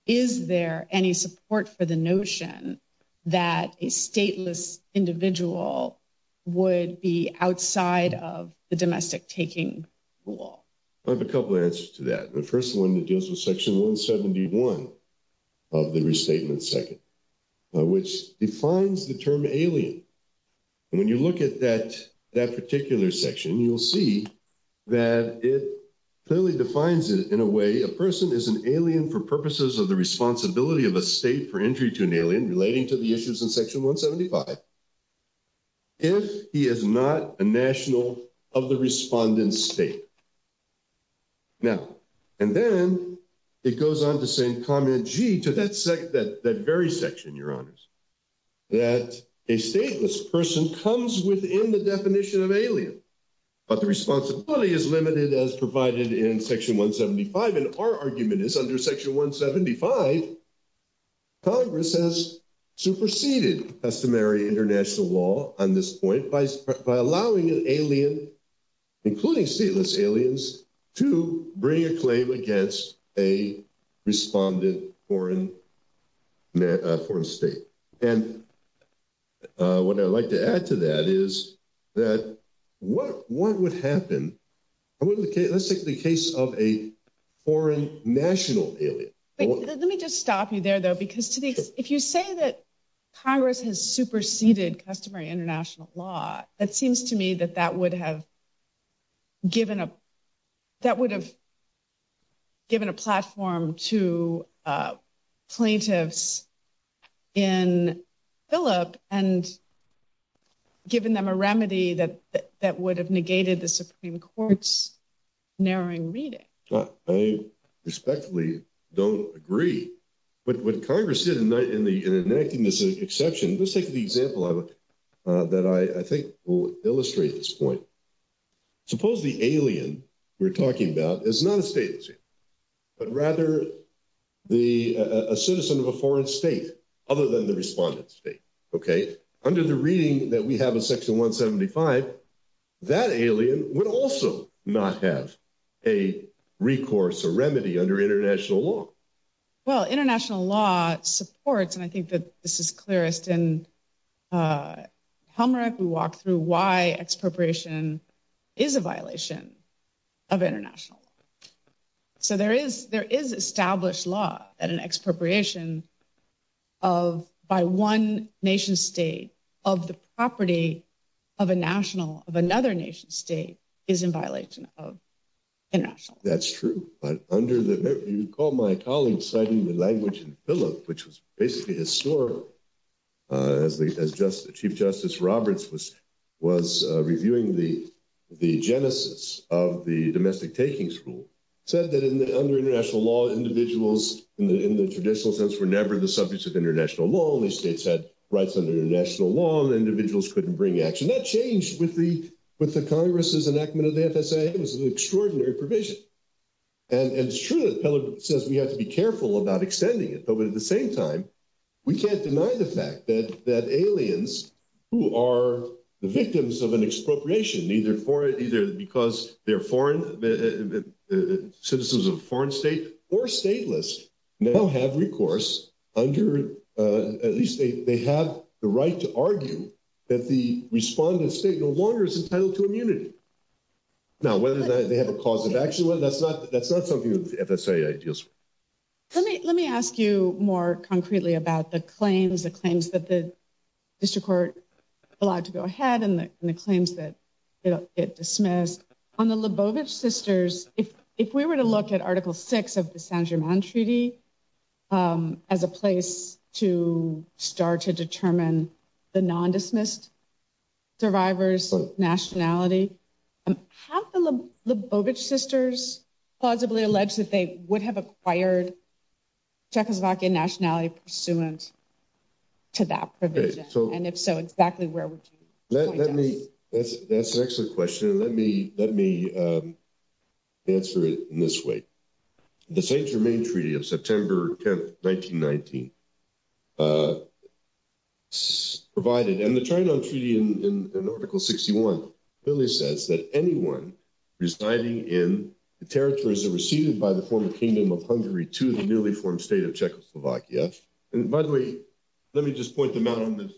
is there any support for the notion that a stateless individual would be outside of the domestic taking rule? I have a couple of answers to that. The first one that deals with Section 171 of the Restatement Second, which defines the term alien. And when you look at that particular section, you'll see that it clearly defines it in a way, a person is an alien for purposes of the responsibility of a state for entry to an alien relating to the issues in Section 175 if he is not a national of the respondent state. Now, and then it goes on to say in comment G to that very section, Your Honors, that a stateless person comes within the definition of alien, but the responsibility is limited as provided in Section 175. And our argument is under Section 175, Congress has superseded customary international law on this point by allowing an alien, including stateless aliens, to bring a claim against a respondent foreign state. And what I'd like to add to that is that what would happen? I mean, let's take the case of a foreign national. Let me just stop you there, though, because if you say that Congress has superseded customary international law, it seems to me that that would have given a platform to plaintiffs in Phillip and given them a remedy that would have negated the Supreme Court's narrowing reading. I respectfully don't agree. But what Congress did in enacting this exception, let's take the example that I think will illustrate this point. Suppose the alien we're talking about is not a stateless alien, but rather a citizen of a foreign state other than the respondent state. Okay? Under the reading that we have in Section 175, that alien would also not have a recourse or remedy under international law. Well, international law supports, and I think that this is clearest in Helmreich, we walk through why expropriation is a violation of international law. So there is established law that an expropriation by one nation-state of the property of a national of another nation-state is in violation of international law. That's true. You recall my colleague citing the language in Phillip, which is basically the sort of Chief Justice Roberts was reviewing the genesis of the domestic taking school. Said that under international law, individuals in the traditional sense were never the subjects of international law. Only states had rights under international law, and individuals couldn't bring action. That changed with the Congress' enactment of the FSA. I think it was an extraordinary provision. And it's true that Phillip says we have to be careful about extending it. But at the same time, we can't deny the fact that aliens who are the victims of an expropriation, either because they're citizens of a foreign state or stateless, now have recourse under, at least they have the right to argue that the respondent state no longer is entitled to immunity. Now, whether they have a cause of action, that's not something that the FSA ideas. Let me ask you more concretely about the claims, the claims that the dismiss. On the Lubovitch sisters, if we were to look at Article 6 of the Saint-Germain Treaty as a place to start to determine the non-dismissed survivor's nationality, have the Lubovitch sisters plausibly alleged that they would have acquired Czechoslovakian nationality pursuant to that provision? And if so, exactly where would you point that? Let me, that's an excellent question. Let me, let me answer it in this way. The Saint-Germain Treaty of September 10th, 1919, provided, and the China Treaty in Article 61 really says that anyone residing in the territories that are received by the former Kingdom of Hungary to the newly formed state of Czechoslovakia, and by the way, let me just point them out on this.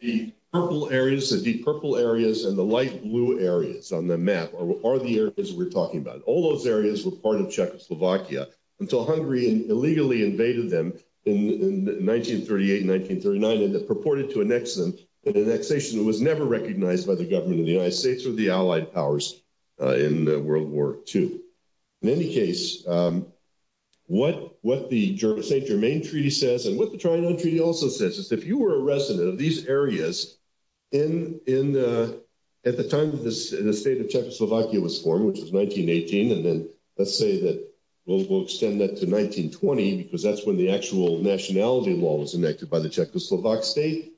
The purple areas, the deep purple areas and the light blue areas on the map are the areas we're talking about. All those areas were part of Czechoslovakia until Hungary illegally invaded them in 1938 and 1939 and purported to annex them, but the annexation was never recognized by the government of the United States or the Allied powers in World War II. In any case, what the Saint-Germain Treaty says and what the Triangle Treaty also says is if you were a resident of these areas in the, at the time that the state of Czechoslovakia was formed, which was 1918, and then let's say that we'll extend that to 1920 because that's when the actual nationality law was enacted by the Czechoslovak state.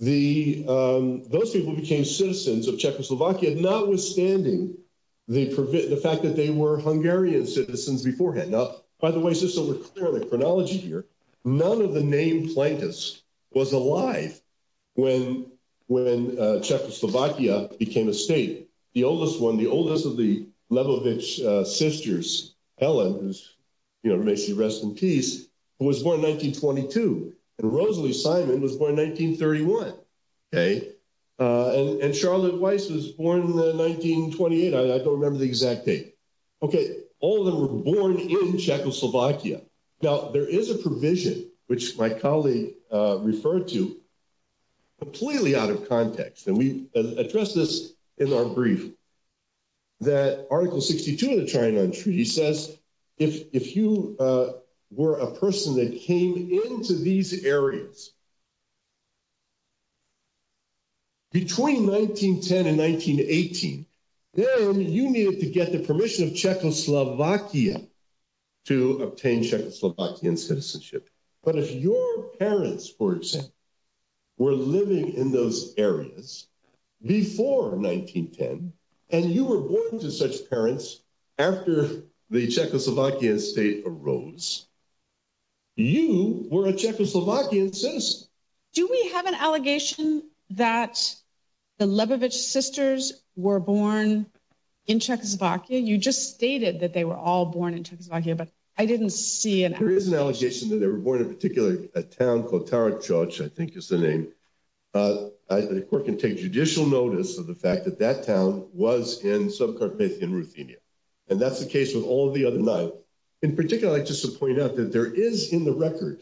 Those people became citizens of Czechoslovakia notwithstanding the fact that they were Hungarian citizens beforehand. Now, by the way, just so we're clear on the chronology here, none of the named plaintiffs was alive when Czechoslovakia became a state. The oldest one, the oldest of the Lebovich sisters, Helen, who makes you rest in peace, was born in 1922, and Rosalie Simon was born in 1931, okay, and Charlotte Weiss was born in 1928. I don't remember the exact date. Okay, all of them were born in Czechoslovakia. Now, there is a provision, which my colleague referred to, completely out of context, and I'll address this in our brief, that Article 62 of the China Treaty says if you were a person that came into these areas between 1910 and 1918, then you needed to get the permission of Czechoslovakia to obtain Czechoslovakian citizenship, but if your parents, for example, were living in those areas before 1910, and you were born to such parents after the Czechoslovakian state arose, you were a Czechoslovakian citizen. Do we have an allegation that the Lebovich sisters were born in Czechoslovakia? You just stated that they were all born in Czechoslovakia, but I didn't see an allegation. There is an allegation that they were born in a particular town called Tarakčač, I think is the name, and the court can take judicial notice of the fact that that town was in some part of Ruthenia, and that's the case with all of the other nine. In particular, I'd just like to point out that there is in the record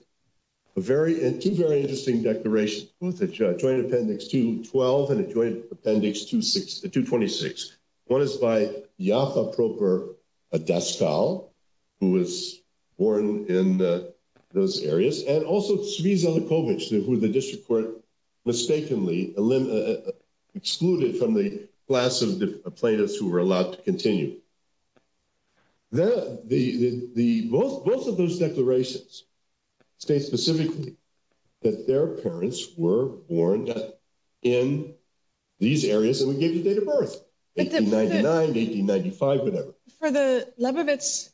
two very interesting declarations, the Joint Appendix 212 and the Joint Appendix 226. One is by Jafa Prokhor Daskal, who was born in those areas, and also Sviza Lebovich, who the district court mistakenly excluded from the class of the plaintiffs who were allowed to continue. Both of those declarations state specifically that their parents were born in these areas and would give you a date of birth, 1899, 1895, whatever. For the Lebovich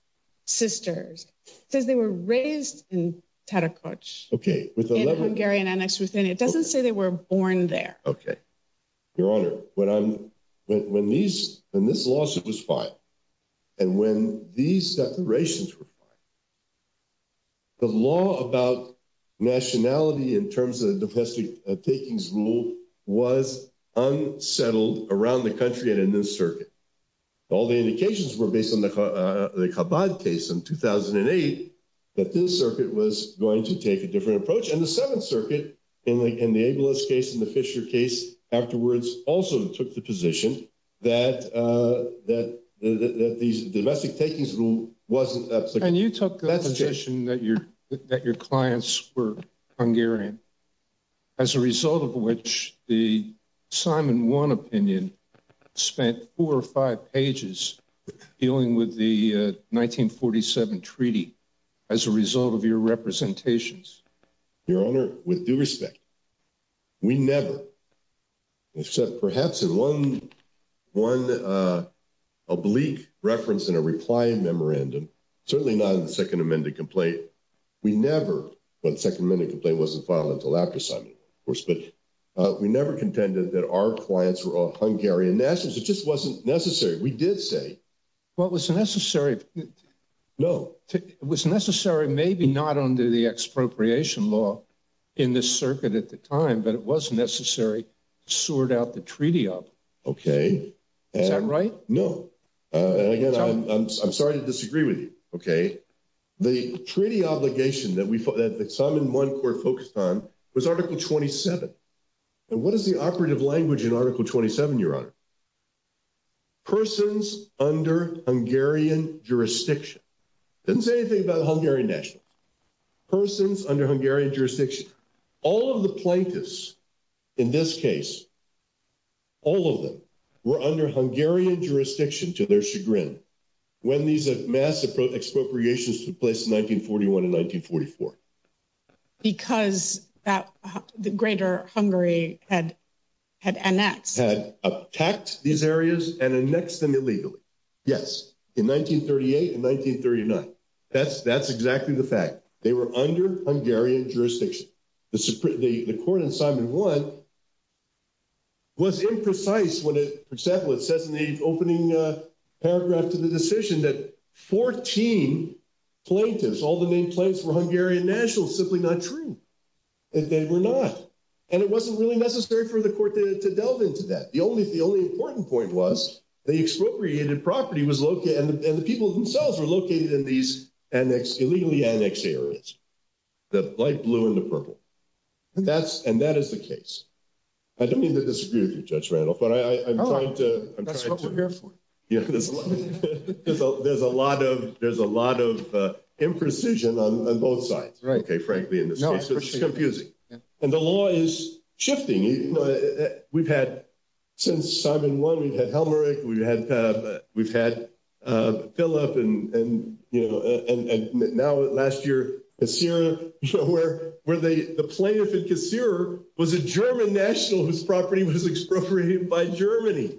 sisters, it says they were raised in Tarakčač. Okay. It doesn't say they were born there. Okay. Your Honor, when this lawsuit was filed, and when these declarations were filed, the law about nationality in terms of domestic takings rule was unsettled around the country and in this circuit. All the indications were based on the Kabad case in 2008, that this circuit was going to take a different approach. And the Seventh Circuit, in the Ambulance case and the Fisher case afterwards, also took the position that the domestic takings rule wasn't that successful. And you took that position that your clients were Hungarian, as a result of which the Simon One opinion spent four or five pages dealing with the 1947 treaty, as a result of your representations. Your Honor, with due respect, we never, except perhaps in one oblique reference in a reply memorandum, certainly not in the Second Amendment complaint, we never, but the Second Amendment complaint wasn't filed until after Simon, of course, but we never contended that our clients were all Hungarian. In essence, it just wasn't necessary. We did say. Well, it was necessary. No. It was necessary, maybe not under the expropriation law in this circuit at the time, but it was necessary to sort out the treaty up. Okay. Is that right? No. And again, I'm sorry to disagree with you. Okay. The treaty obligation that Simon One Court focused on was Article 27. And what is the operative language in Article 27, Your Honor? Persons under Hungarian jurisdiction. It doesn't say anything about a Hungarian national. Persons under Hungarian jurisdiction. All of the plaintiffs in this case, all of them were under Hungarian jurisdiction to their chagrin when these mass expropriations took place in 1941 and 1944. Because the greater Hungary had annexed. Had attacked these areas and annexed them illegally. Yes. In 1938 and 1939. That's exactly the fact. They were under Hungarian jurisdiction. The court in Simon One was imprecise when it said in the opening paragraph to the decision that 14 plaintiffs, all the main plaintiffs were Hungarian nationals, simply not true. And they were not. And it wasn't really necessary for the court to delve into that. The only important point was the expropriated property was located, and the people themselves were located in these illegally annexed areas. The light blue and the purple. And that is the case. I don't mean to disagree with you, Judge Randolph, but I'm trying to. Oh, that's a good point. There's a lot of imprecision on both sides. Right. Okay. Frankly, in this case, it's confusing. And the law is shifting. We've had, since Simon One, we've had Helmerich, we've had Phillip, and now last year, Kassir, where the plaintiff in Kassir was a German national whose property was expropriated by Germany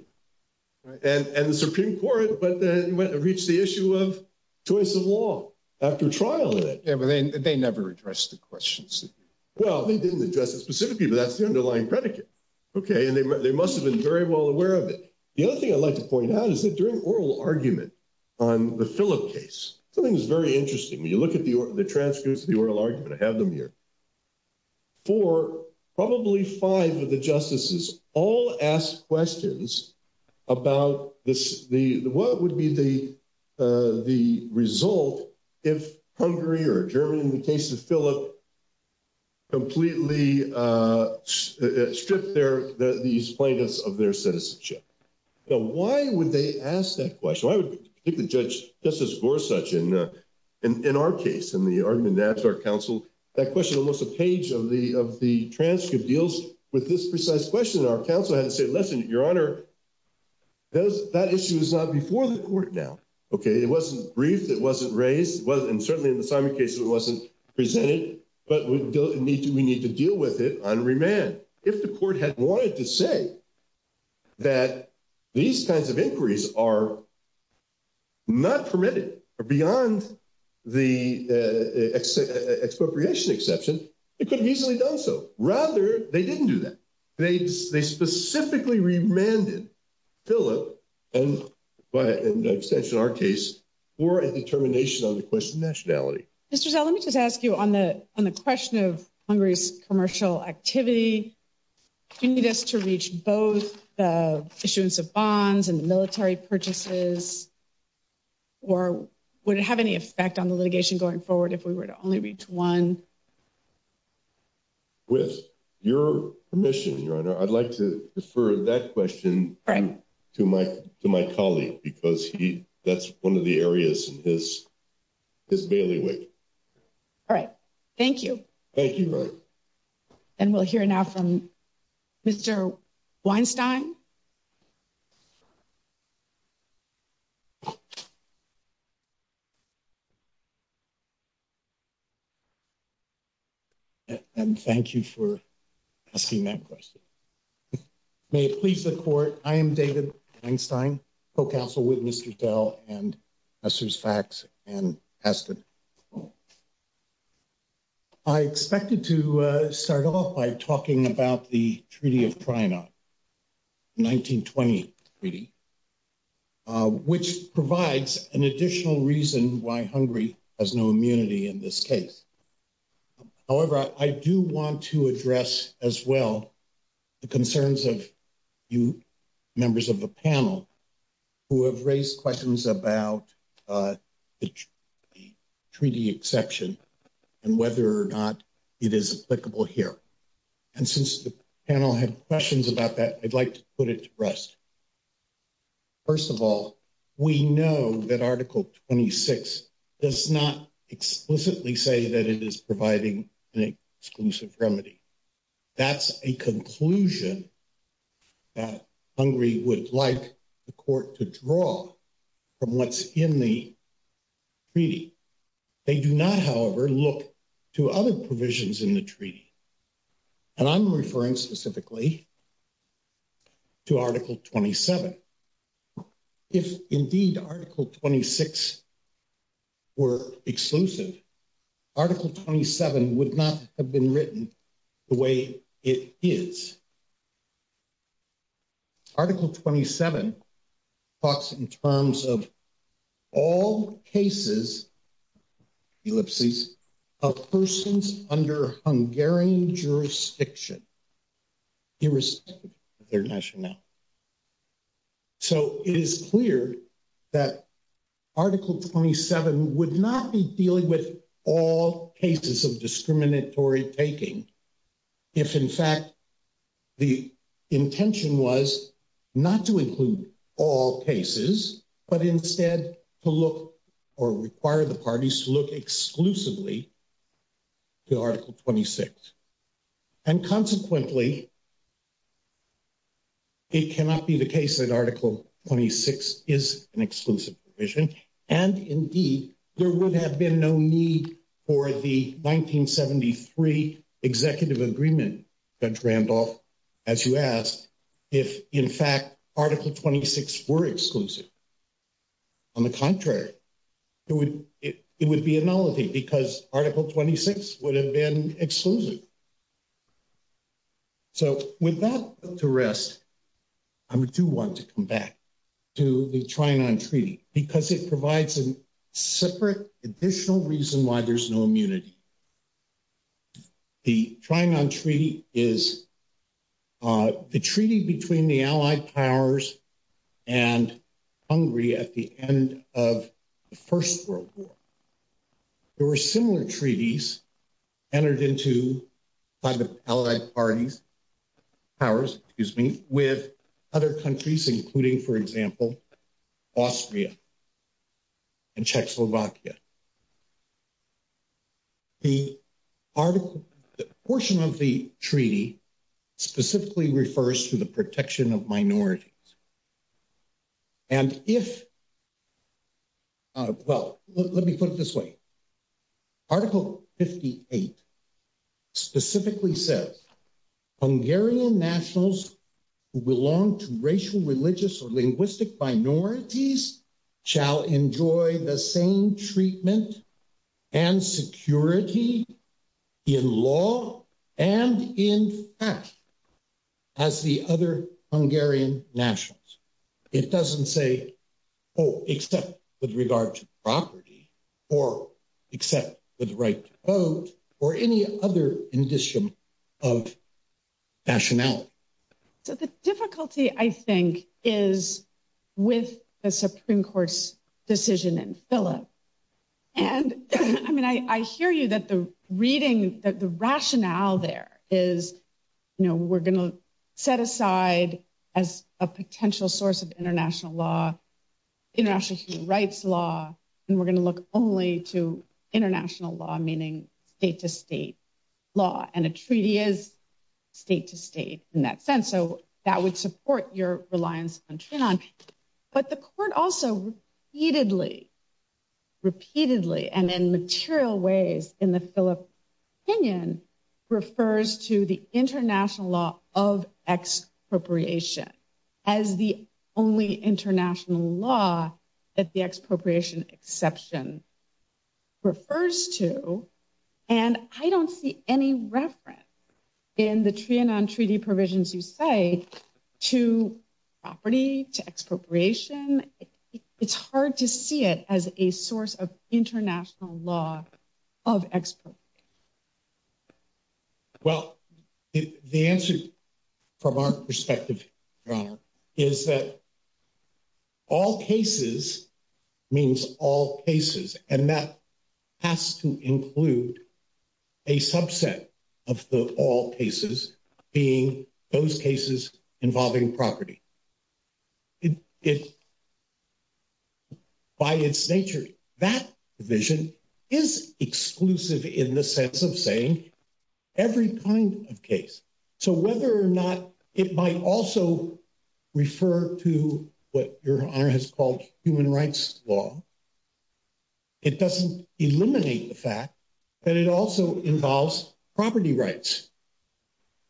and the Supreme Court, but then it went and reached the issue of choice of law after trial. Yeah, but they never addressed the questions. Well, they didn't address it specifically, but that's the underlying predicate. Okay. And they must have been very well aware of it. The other thing I'd like to point out is that during oral argument on the Phillip case, something's very interesting. When you look at the transcripts of the oral argument, I have them here. Four, probably five of the justices all asked questions about what would be the result if Hungary or Germany, in the case of Phillip, completely stripped these plaintiffs of their citizenship. So why would they ask that question? I would think the judge, Justice Gorsuch, in our case, in the argument to ask our counsel, that question, unless a page of the transcript deals with this precise question, our counsel had to say, listen, Your Honor, that issue is not before the court now. Okay. It wasn't briefed. It wasn't raised. And certainly in the Simon case, it wasn't presented, but we need to deal with it on remand. If the court had wanted to say that these kinds of inquiries are not permitted beyond the expropriation exception, it could easily have done so. Rather, they didn't do that. They specifically remanded Phillip, in our case, for a determination on the question of nationality. Mr. Zell, let me just ask you, on the question of Hungary's commercial activity, do you need us to reach both the issuance of bonds and military purchases, or would it have any effect on the litigation going forward if we were to only reach one? With your permission, Your Honor, I'd like to defer to that question to my colleague, because that's one of the areas of this bailiwick. All right. Thank you. Thank you. And we'll hear now from Mr. Weinstein. And thank you for asking that question. May it please the Court, I am David Weinstein, Co-Counsel with Mr. Zell and Husserl's Facts, and passed it. I expected to start off by talking about the Treaty of Priena, the 1920 treaty, which provides an additional reason why Hungary has no immunity in this case. However, I do want to address as well the concerns of you members of the panel who have raised questions about the treaty exception and whether or not it is applicable here. And since the panel had questions about that, I'd like to put it to rest. First of all, we know that Article 26 does not explicitly say that it is providing an exclusive remedy. That's a conclusion that Hungary would like the Court to draw from what's in the treaty. They do not, however, look to other provisions in the treaty. And I'm referring specifically to Article 27. If indeed Article 26 were exclusive, Article 27 would not have been written the way it is. Article 27 talks in terms of all cases, let's see, of persons under Hungarian jurisdiction, irrespective of their nationality. So it is clear that Article 27 would not be dealing with all cases of discriminatory taking if, in fact, the intention was not to include all cases, but instead to look or require the parties to look exclusively to Article 26. And consequently, it cannot be the case that Article 26 is an exclusive provision. And indeed, there would have been no need for the 1973 Executive Agreement, Judge Randolph, as you asked, if, in fact, Article 26 were exclusive. On the contrary, it would be a nullity because Article 26 would have been exclusive. So with that put to rest, I do want to come back to the Trinon Treaty, because it provides a separate additional reason why there's no immunity. The Trinon Treaty is the treaty between the Allied Powers and Hungary at the end of the First World War. There were similar treaties entered into by the Allied Powers with other countries, including, for example, Austria and Czechoslovakia. The portion of the treaty specifically refers to the protection of minorities. And if, well, let me put it this way. Article 58 specifically says, Hungarian nationals who belong to racial, religious, or linguistic minorities shall enjoy the same treatment and security in law and in It doesn't say, oh, except with regard to property, or except with right to vote, or any other condition of rationale. So the difficulty, I think, is with the Supreme Court's decision in Phillips. And I mean, I hear you that the reading, that the rationale there is, you know, we're going set aside as a potential source of international law, international human rights law, and we're going to look only to international law, meaning state-to-state law. And a treaty is state-to-state in that sense. So that would support your reliance on Trinon. But the court also repeatedly, repeatedly, and in material ways in the Phillips opinion, refers to the international law of expropriation as the only international law that the expropriation exception refers to. And I don't see any reference in the Trinon Treaty provisions you say to property, to expropriation. It's hard to see it as a source of international law of expropriation. Well, the answer from our perspective, Your Honor, is that all cases means all cases. And that has to include a subset of the all cases being those cases involving property. It's, by its nature, that vision is exclusive in the sense of saying every kind of case. So whether or not it might also refer to what Your Honor has called human rights law, it doesn't eliminate the fact that it also involves property rights.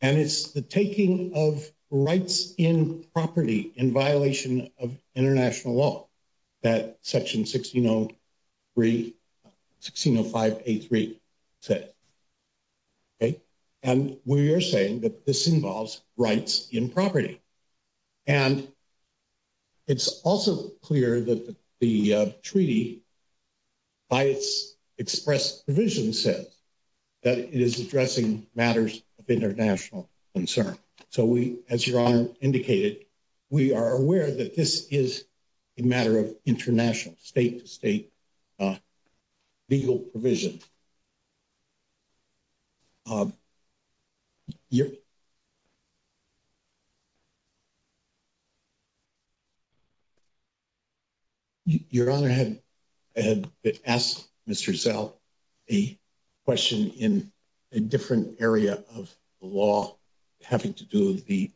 And it's the taking of rights in property in violation of international law that Section 1605A3 says. Okay? And we are saying that this involves rights in property. And it's also clear that the treaty, by its expressed vision, says that it is addressing matters of international concern. So we, as Your Honor indicated, we are aware that this is a matter of international, state to state, legal provision. Your Honor, I had asked Mr. Sell a question in a different area of the law having to do with the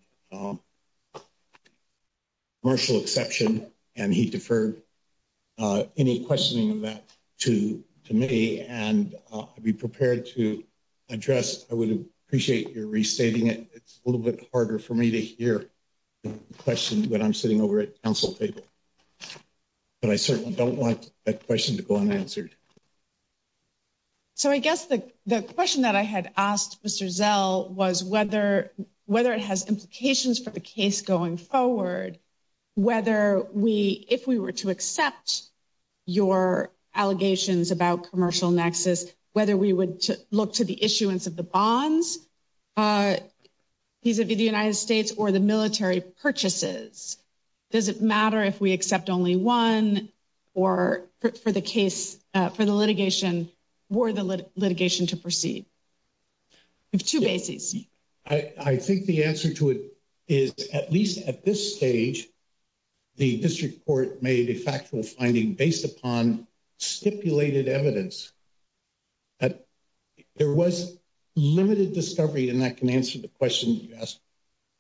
commercial exception. And he deferred any questioning of that to me. And I'd be prepared to address. I would appreciate your restating it. It's a little bit harder for me to hear the question when I'm sitting over at counsel's table. But I certainly don't want that question to go unanswered. So I guess the question that I had asked Mr. Sell was whether it has implications for the if we were to accept your allegations about commercial nexus, whether we would look to the issuance of the bonds vis-a-vis the United States or the military purchases. Does it matter if we accept only one for the case, for the litigation or the litigation to proceed? Two bases. I think the answer to it is at least at this stage, the district court made a factual finding based upon stipulated evidence that there was limited discovery. And that can answer the question you asked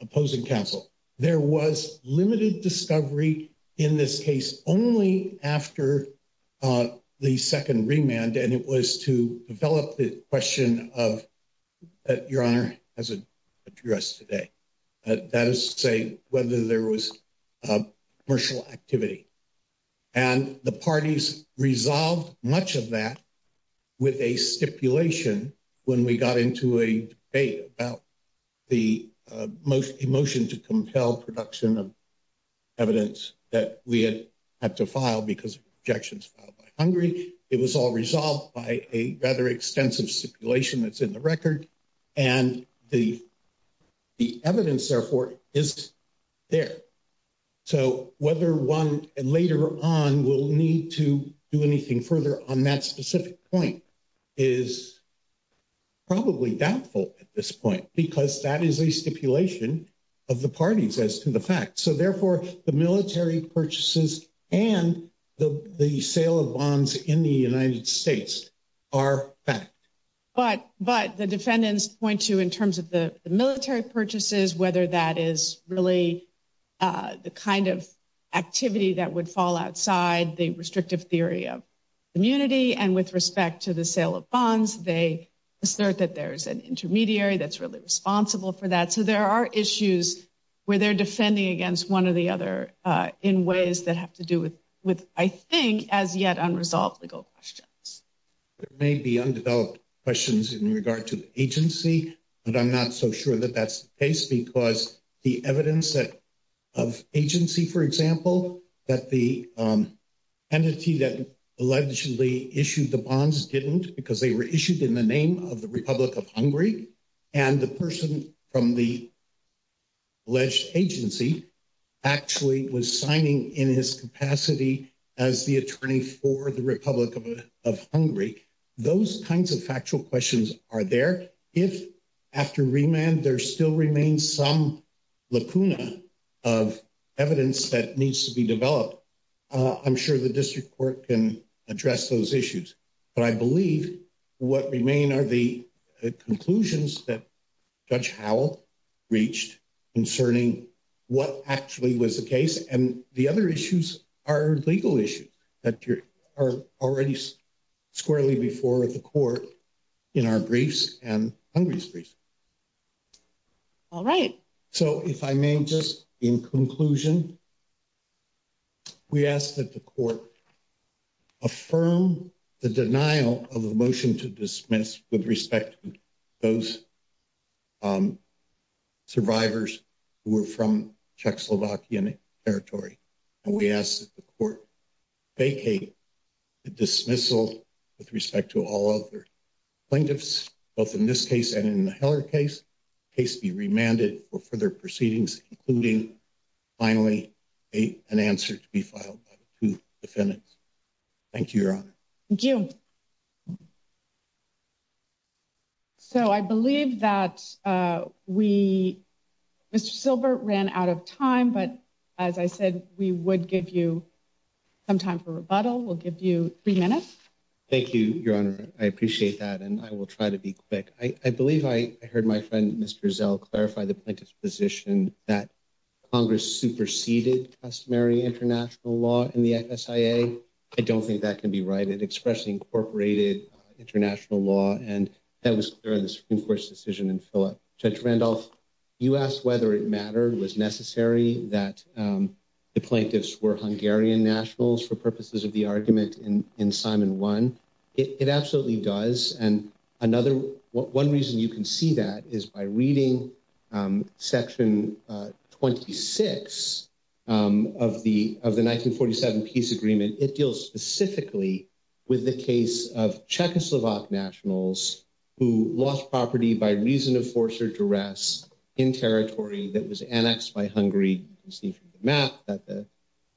opposing counsel. There was limited discovery in this case only after the second remand. And it was to develop the question of that your honor has addressed today. That is to say whether there was commercial activity. And the parties resolved much of that with a stipulation when we got into a debate about the motion to compel production of evidence that we had to file because of objections filed by Hungary. It was all resolved by a rather extensive stipulation that's in the record. And the evidence therefore is there. So whether one later on will need to do anything further on that specific point is probably doubtful at this point because that is a stipulation of the parties as to the fact. So therefore the military purchases and the sale of bonds in the United States are fact. But the defendants point to in terms of the military purchases, whether that is really the kind of activity that would fall outside the restrictive theory of immunity and with respect to the sale of bonds, they assert that there's an intermediary that's really responsible for that. So there are issues where they're defending against one or the other in ways that have to do with, I think, as yet unresolved legal questions. There may be undeveloped questions in regard to the agency, but I'm not so sure that that's the case because the evidence of agency, for example, that the entity that allegedly issued the bonds didn't because they were issued in the name of the Republic of Hungary and the person from the alleged agency actually was signing in his capacity as the attorney for the Republic of Hungary. Those kinds of factual questions are there. If after remand there still remains some lacuna of evidence that needs to be developed, I'm sure the district court can address those issues. But I believe what remain are the conclusions that Judge Howell reached concerning what actually was the case. And the other issues are legal issues that are already squarely before the court in our briefs and Hungary's briefs. All right. So if I may just, in conclusion, we ask that the court affirm the denial of the motion to dismiss with respect to those survivors who were from Czechoslovakian territory. And we ask that the court vacate the dismissal with respect to all other plaintiffs, both in this case and in the Heller case, the case be remanded for further proceedings, including finally an answer to be filed by the two defendants. Thank you, Your Honor. Thank you. So I believe that we, Mr. Silbert ran out of time. But as I said, we would give you some time for rebuttal. We'll give you three minutes. Thank you, Your Honor. I appreciate that. And I will try to be quick. I believe I heard my friend, Mr. Zell, clarify the plaintiff's position that Congress superseded customary international law in the SIA. I don't think that can be right. It expressly incorporated international law. And that was clear in the Supreme Court's decision in Philip. Judge Randolph, you asked whether it mattered, was necessary that the plaintiffs were Hungarian nationals for purposes of the argument in Simon 1. It absolutely does. And one reason you can see that is by reading Section 26 of the 1947 peace agreement. It deals specifically with the case of Czechoslovak nationals who lost property by reason of force or duress in territory that was annexed by Hungary. You can see from the map that the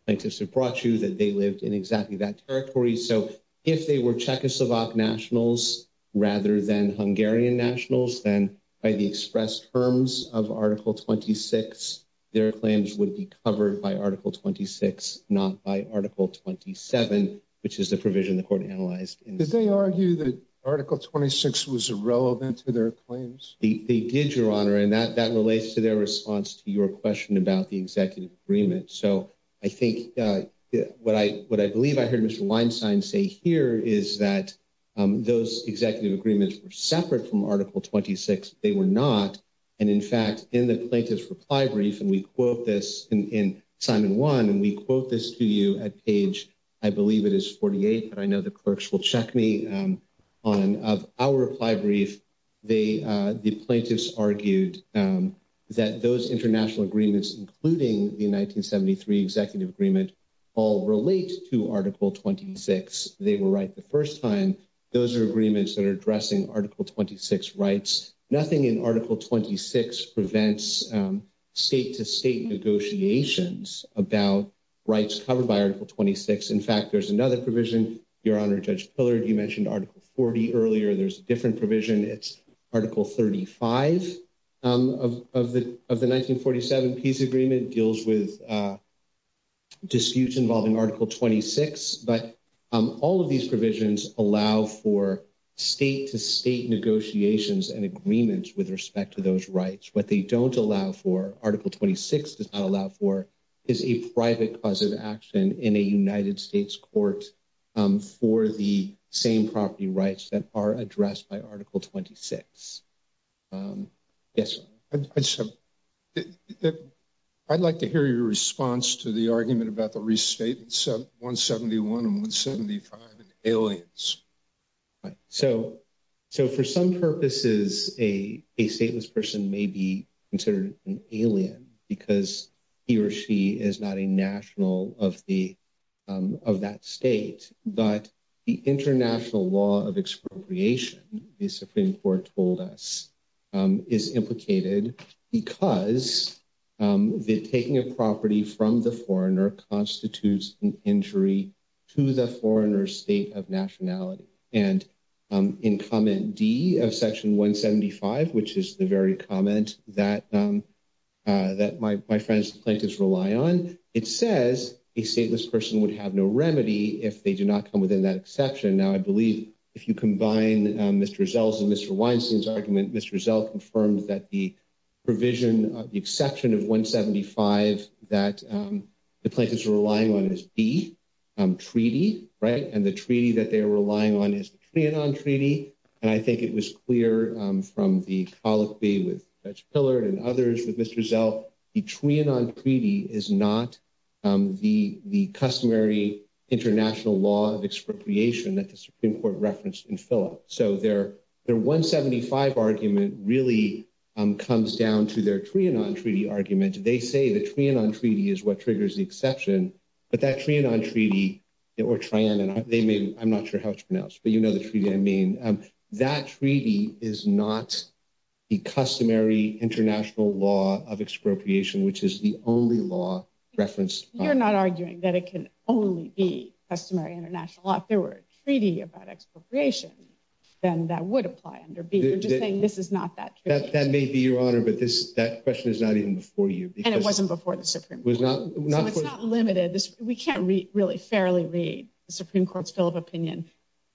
plaintiffs had brought you that they lived in exactly that territory. So if they were Czechoslovak nationals rather than Hungarian nationals, then by the expressed terms of Article 26, their claims would be covered by Article 26, not by Article 27, which is the provision the court analyzed. Did they argue that Article 26 was relevant to their claims? They did, Your Honor. And that relates to their response to your question about the executive agreement. So I think what I believe I heard Mr. Weinstein say here is that those executive agreements were separate from Article 26. They were not. And in fact, in the plaintiff's reply brief, and we quote this in Simon 1, and we quote this to you at page, I believe it is 48, but I know the clerks will check me on our reply brief, the plaintiffs argued that those international agreements, including the 1973 executive agreement, all relate to Article 26. They were right the first time. Those are agreements that are addressing Article 26 rights. Nothing in Article 26 prevents state-to-state negotiations about rights covered by Article 26. In fact, there's another provision, Your Honor, Judge Pillard, you mentioned Article 40 earlier. There's a different provision. It's Article 35 of the 1947 peace agreement deals with disputes involving Article 26. But all of these provisions allow for state-to-state negotiations and agreements with respect to those rights. What they don't allow for, Article 26 does not allow for, is a private cause of action in a United States court for the same property rights that are addressed by Article 26. Yes. I'd like to hear your response to the argument about the restatements of 171 and 175 and aliens. So for some purposes, a stateless person may be considered an alien because he or she is not a national of that state. But the international law of expropriation, the Supreme Court told us, is implicated because the taking of property from the foreigner constitutes an injury to the foreigner's state of nationality. And in Comment D of Section 175, which is the very comment that my friends, the Plaintiffs, rely on, it says a stateless person would have no remedy if they do not come within that exception. Now, I believe if you combine Mr. Zell's and Mr. Weinstein's argument, Mr. Zell confirmed that the provision of the exception of 175 that the Plaintiffs are relying on is D, treaty, right? And the treaty that they're relying on is the Trianon Treaty. And I think it was clear from the policy with Judge Pillard and others with Mr. Zell, the Trianon Treaty is not the customary international law of expropriation that the Supreme Court referenced in Phillips. So their 175 argument really comes down to their Trianon Treaty argument. They say the Trianon Treaty is what triggers the exception, but that Trianon Treaty, I'm not sure how to pronounce, but you know the treaty I mean, that treaty is not the customary international law of expropriation, which is the only law referenced by- You're not arguing that it can only be customary international law. If there were a treaty about expropriation, then that would apply under B. You're just saying this is not that treaty. That may be, Your Honor, but that question is not even before you. And it wasn't before the Supreme Court. It was not- It was not limited. We can't really fairly read the Supreme Court's bill of opinion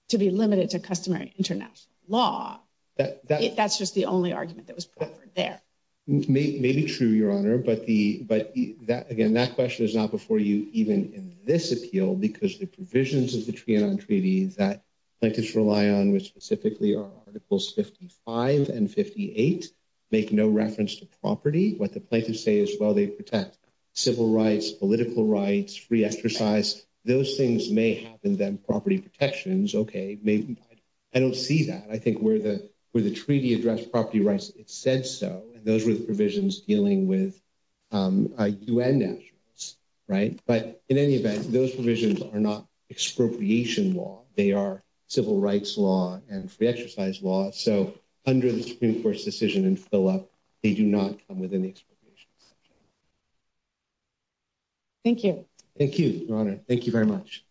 to be limited to customary international law. That's just the only argument that was put there. Maybe true, Your Honor. But again, that question is not before you even in this appeal because the provisions of the Trianon Treaty that plaintiffs rely on, which specifically are Articles 55 and 58, make no reference to property. What the plaintiffs say is, well, they protect civil rights, political rights, free exercise. Those things may have been property protections. Okay, I don't see that. I think where the treaty addressed property rights, it said so. Those were the provisions dealing with UN nationals, right? But in any event, those provisions are not expropriation law. They are civil rights law and free exercise law. So under the Supreme Court's decision in Phillip, they do not come within the expropriation law. Thank you. Thank you, Your Honor. Thank you very much.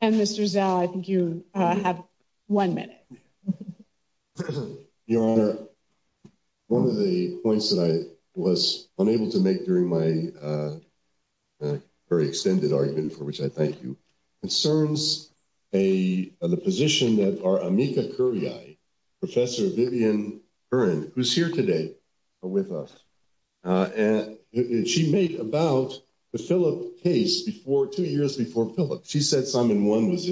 And Mr. Zhao, I think you have one minute. Your Honor, one of the points that I was unable to make during my very extended argument, for which I thank you, concerns the position that our amicus curiae, Professor Vivian Kern, who's here today, but with us, and she made about the Phillip case before, two years before Phillip. She said time and one was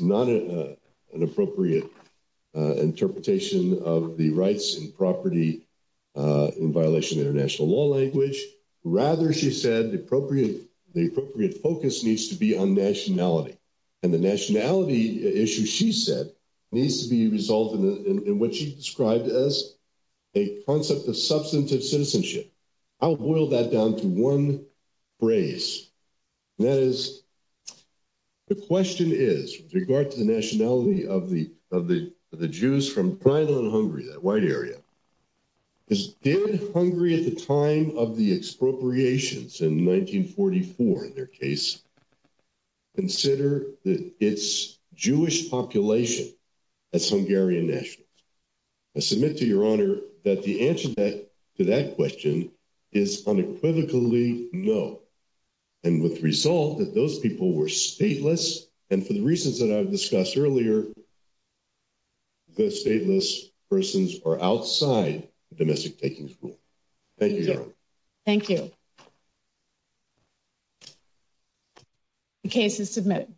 not an appropriate interpretation of the rights and property in violation of international law language. Rather, she said, the appropriate focus needs to be on nationality. And the nationality issue, she said, needs to be resolved in what she described as a concept of substantive citizenship. I'll boil that down to one phrase. That is, the question is, with regard to the nationality of the Jews from Thailand and Hungary, that white area, did Hungary at the time of the expropriations in 1944, in their case, consider its Jewish population as Hungarian nationals? I submit to Your Honor that the answer to that question is unequivocally no. And with the result that those people were stateless, and for the reasons that I've discussed earlier, those stateless persons are outside the domestic taking school. Thank you, Your Honor. Thank you. The case is submitted.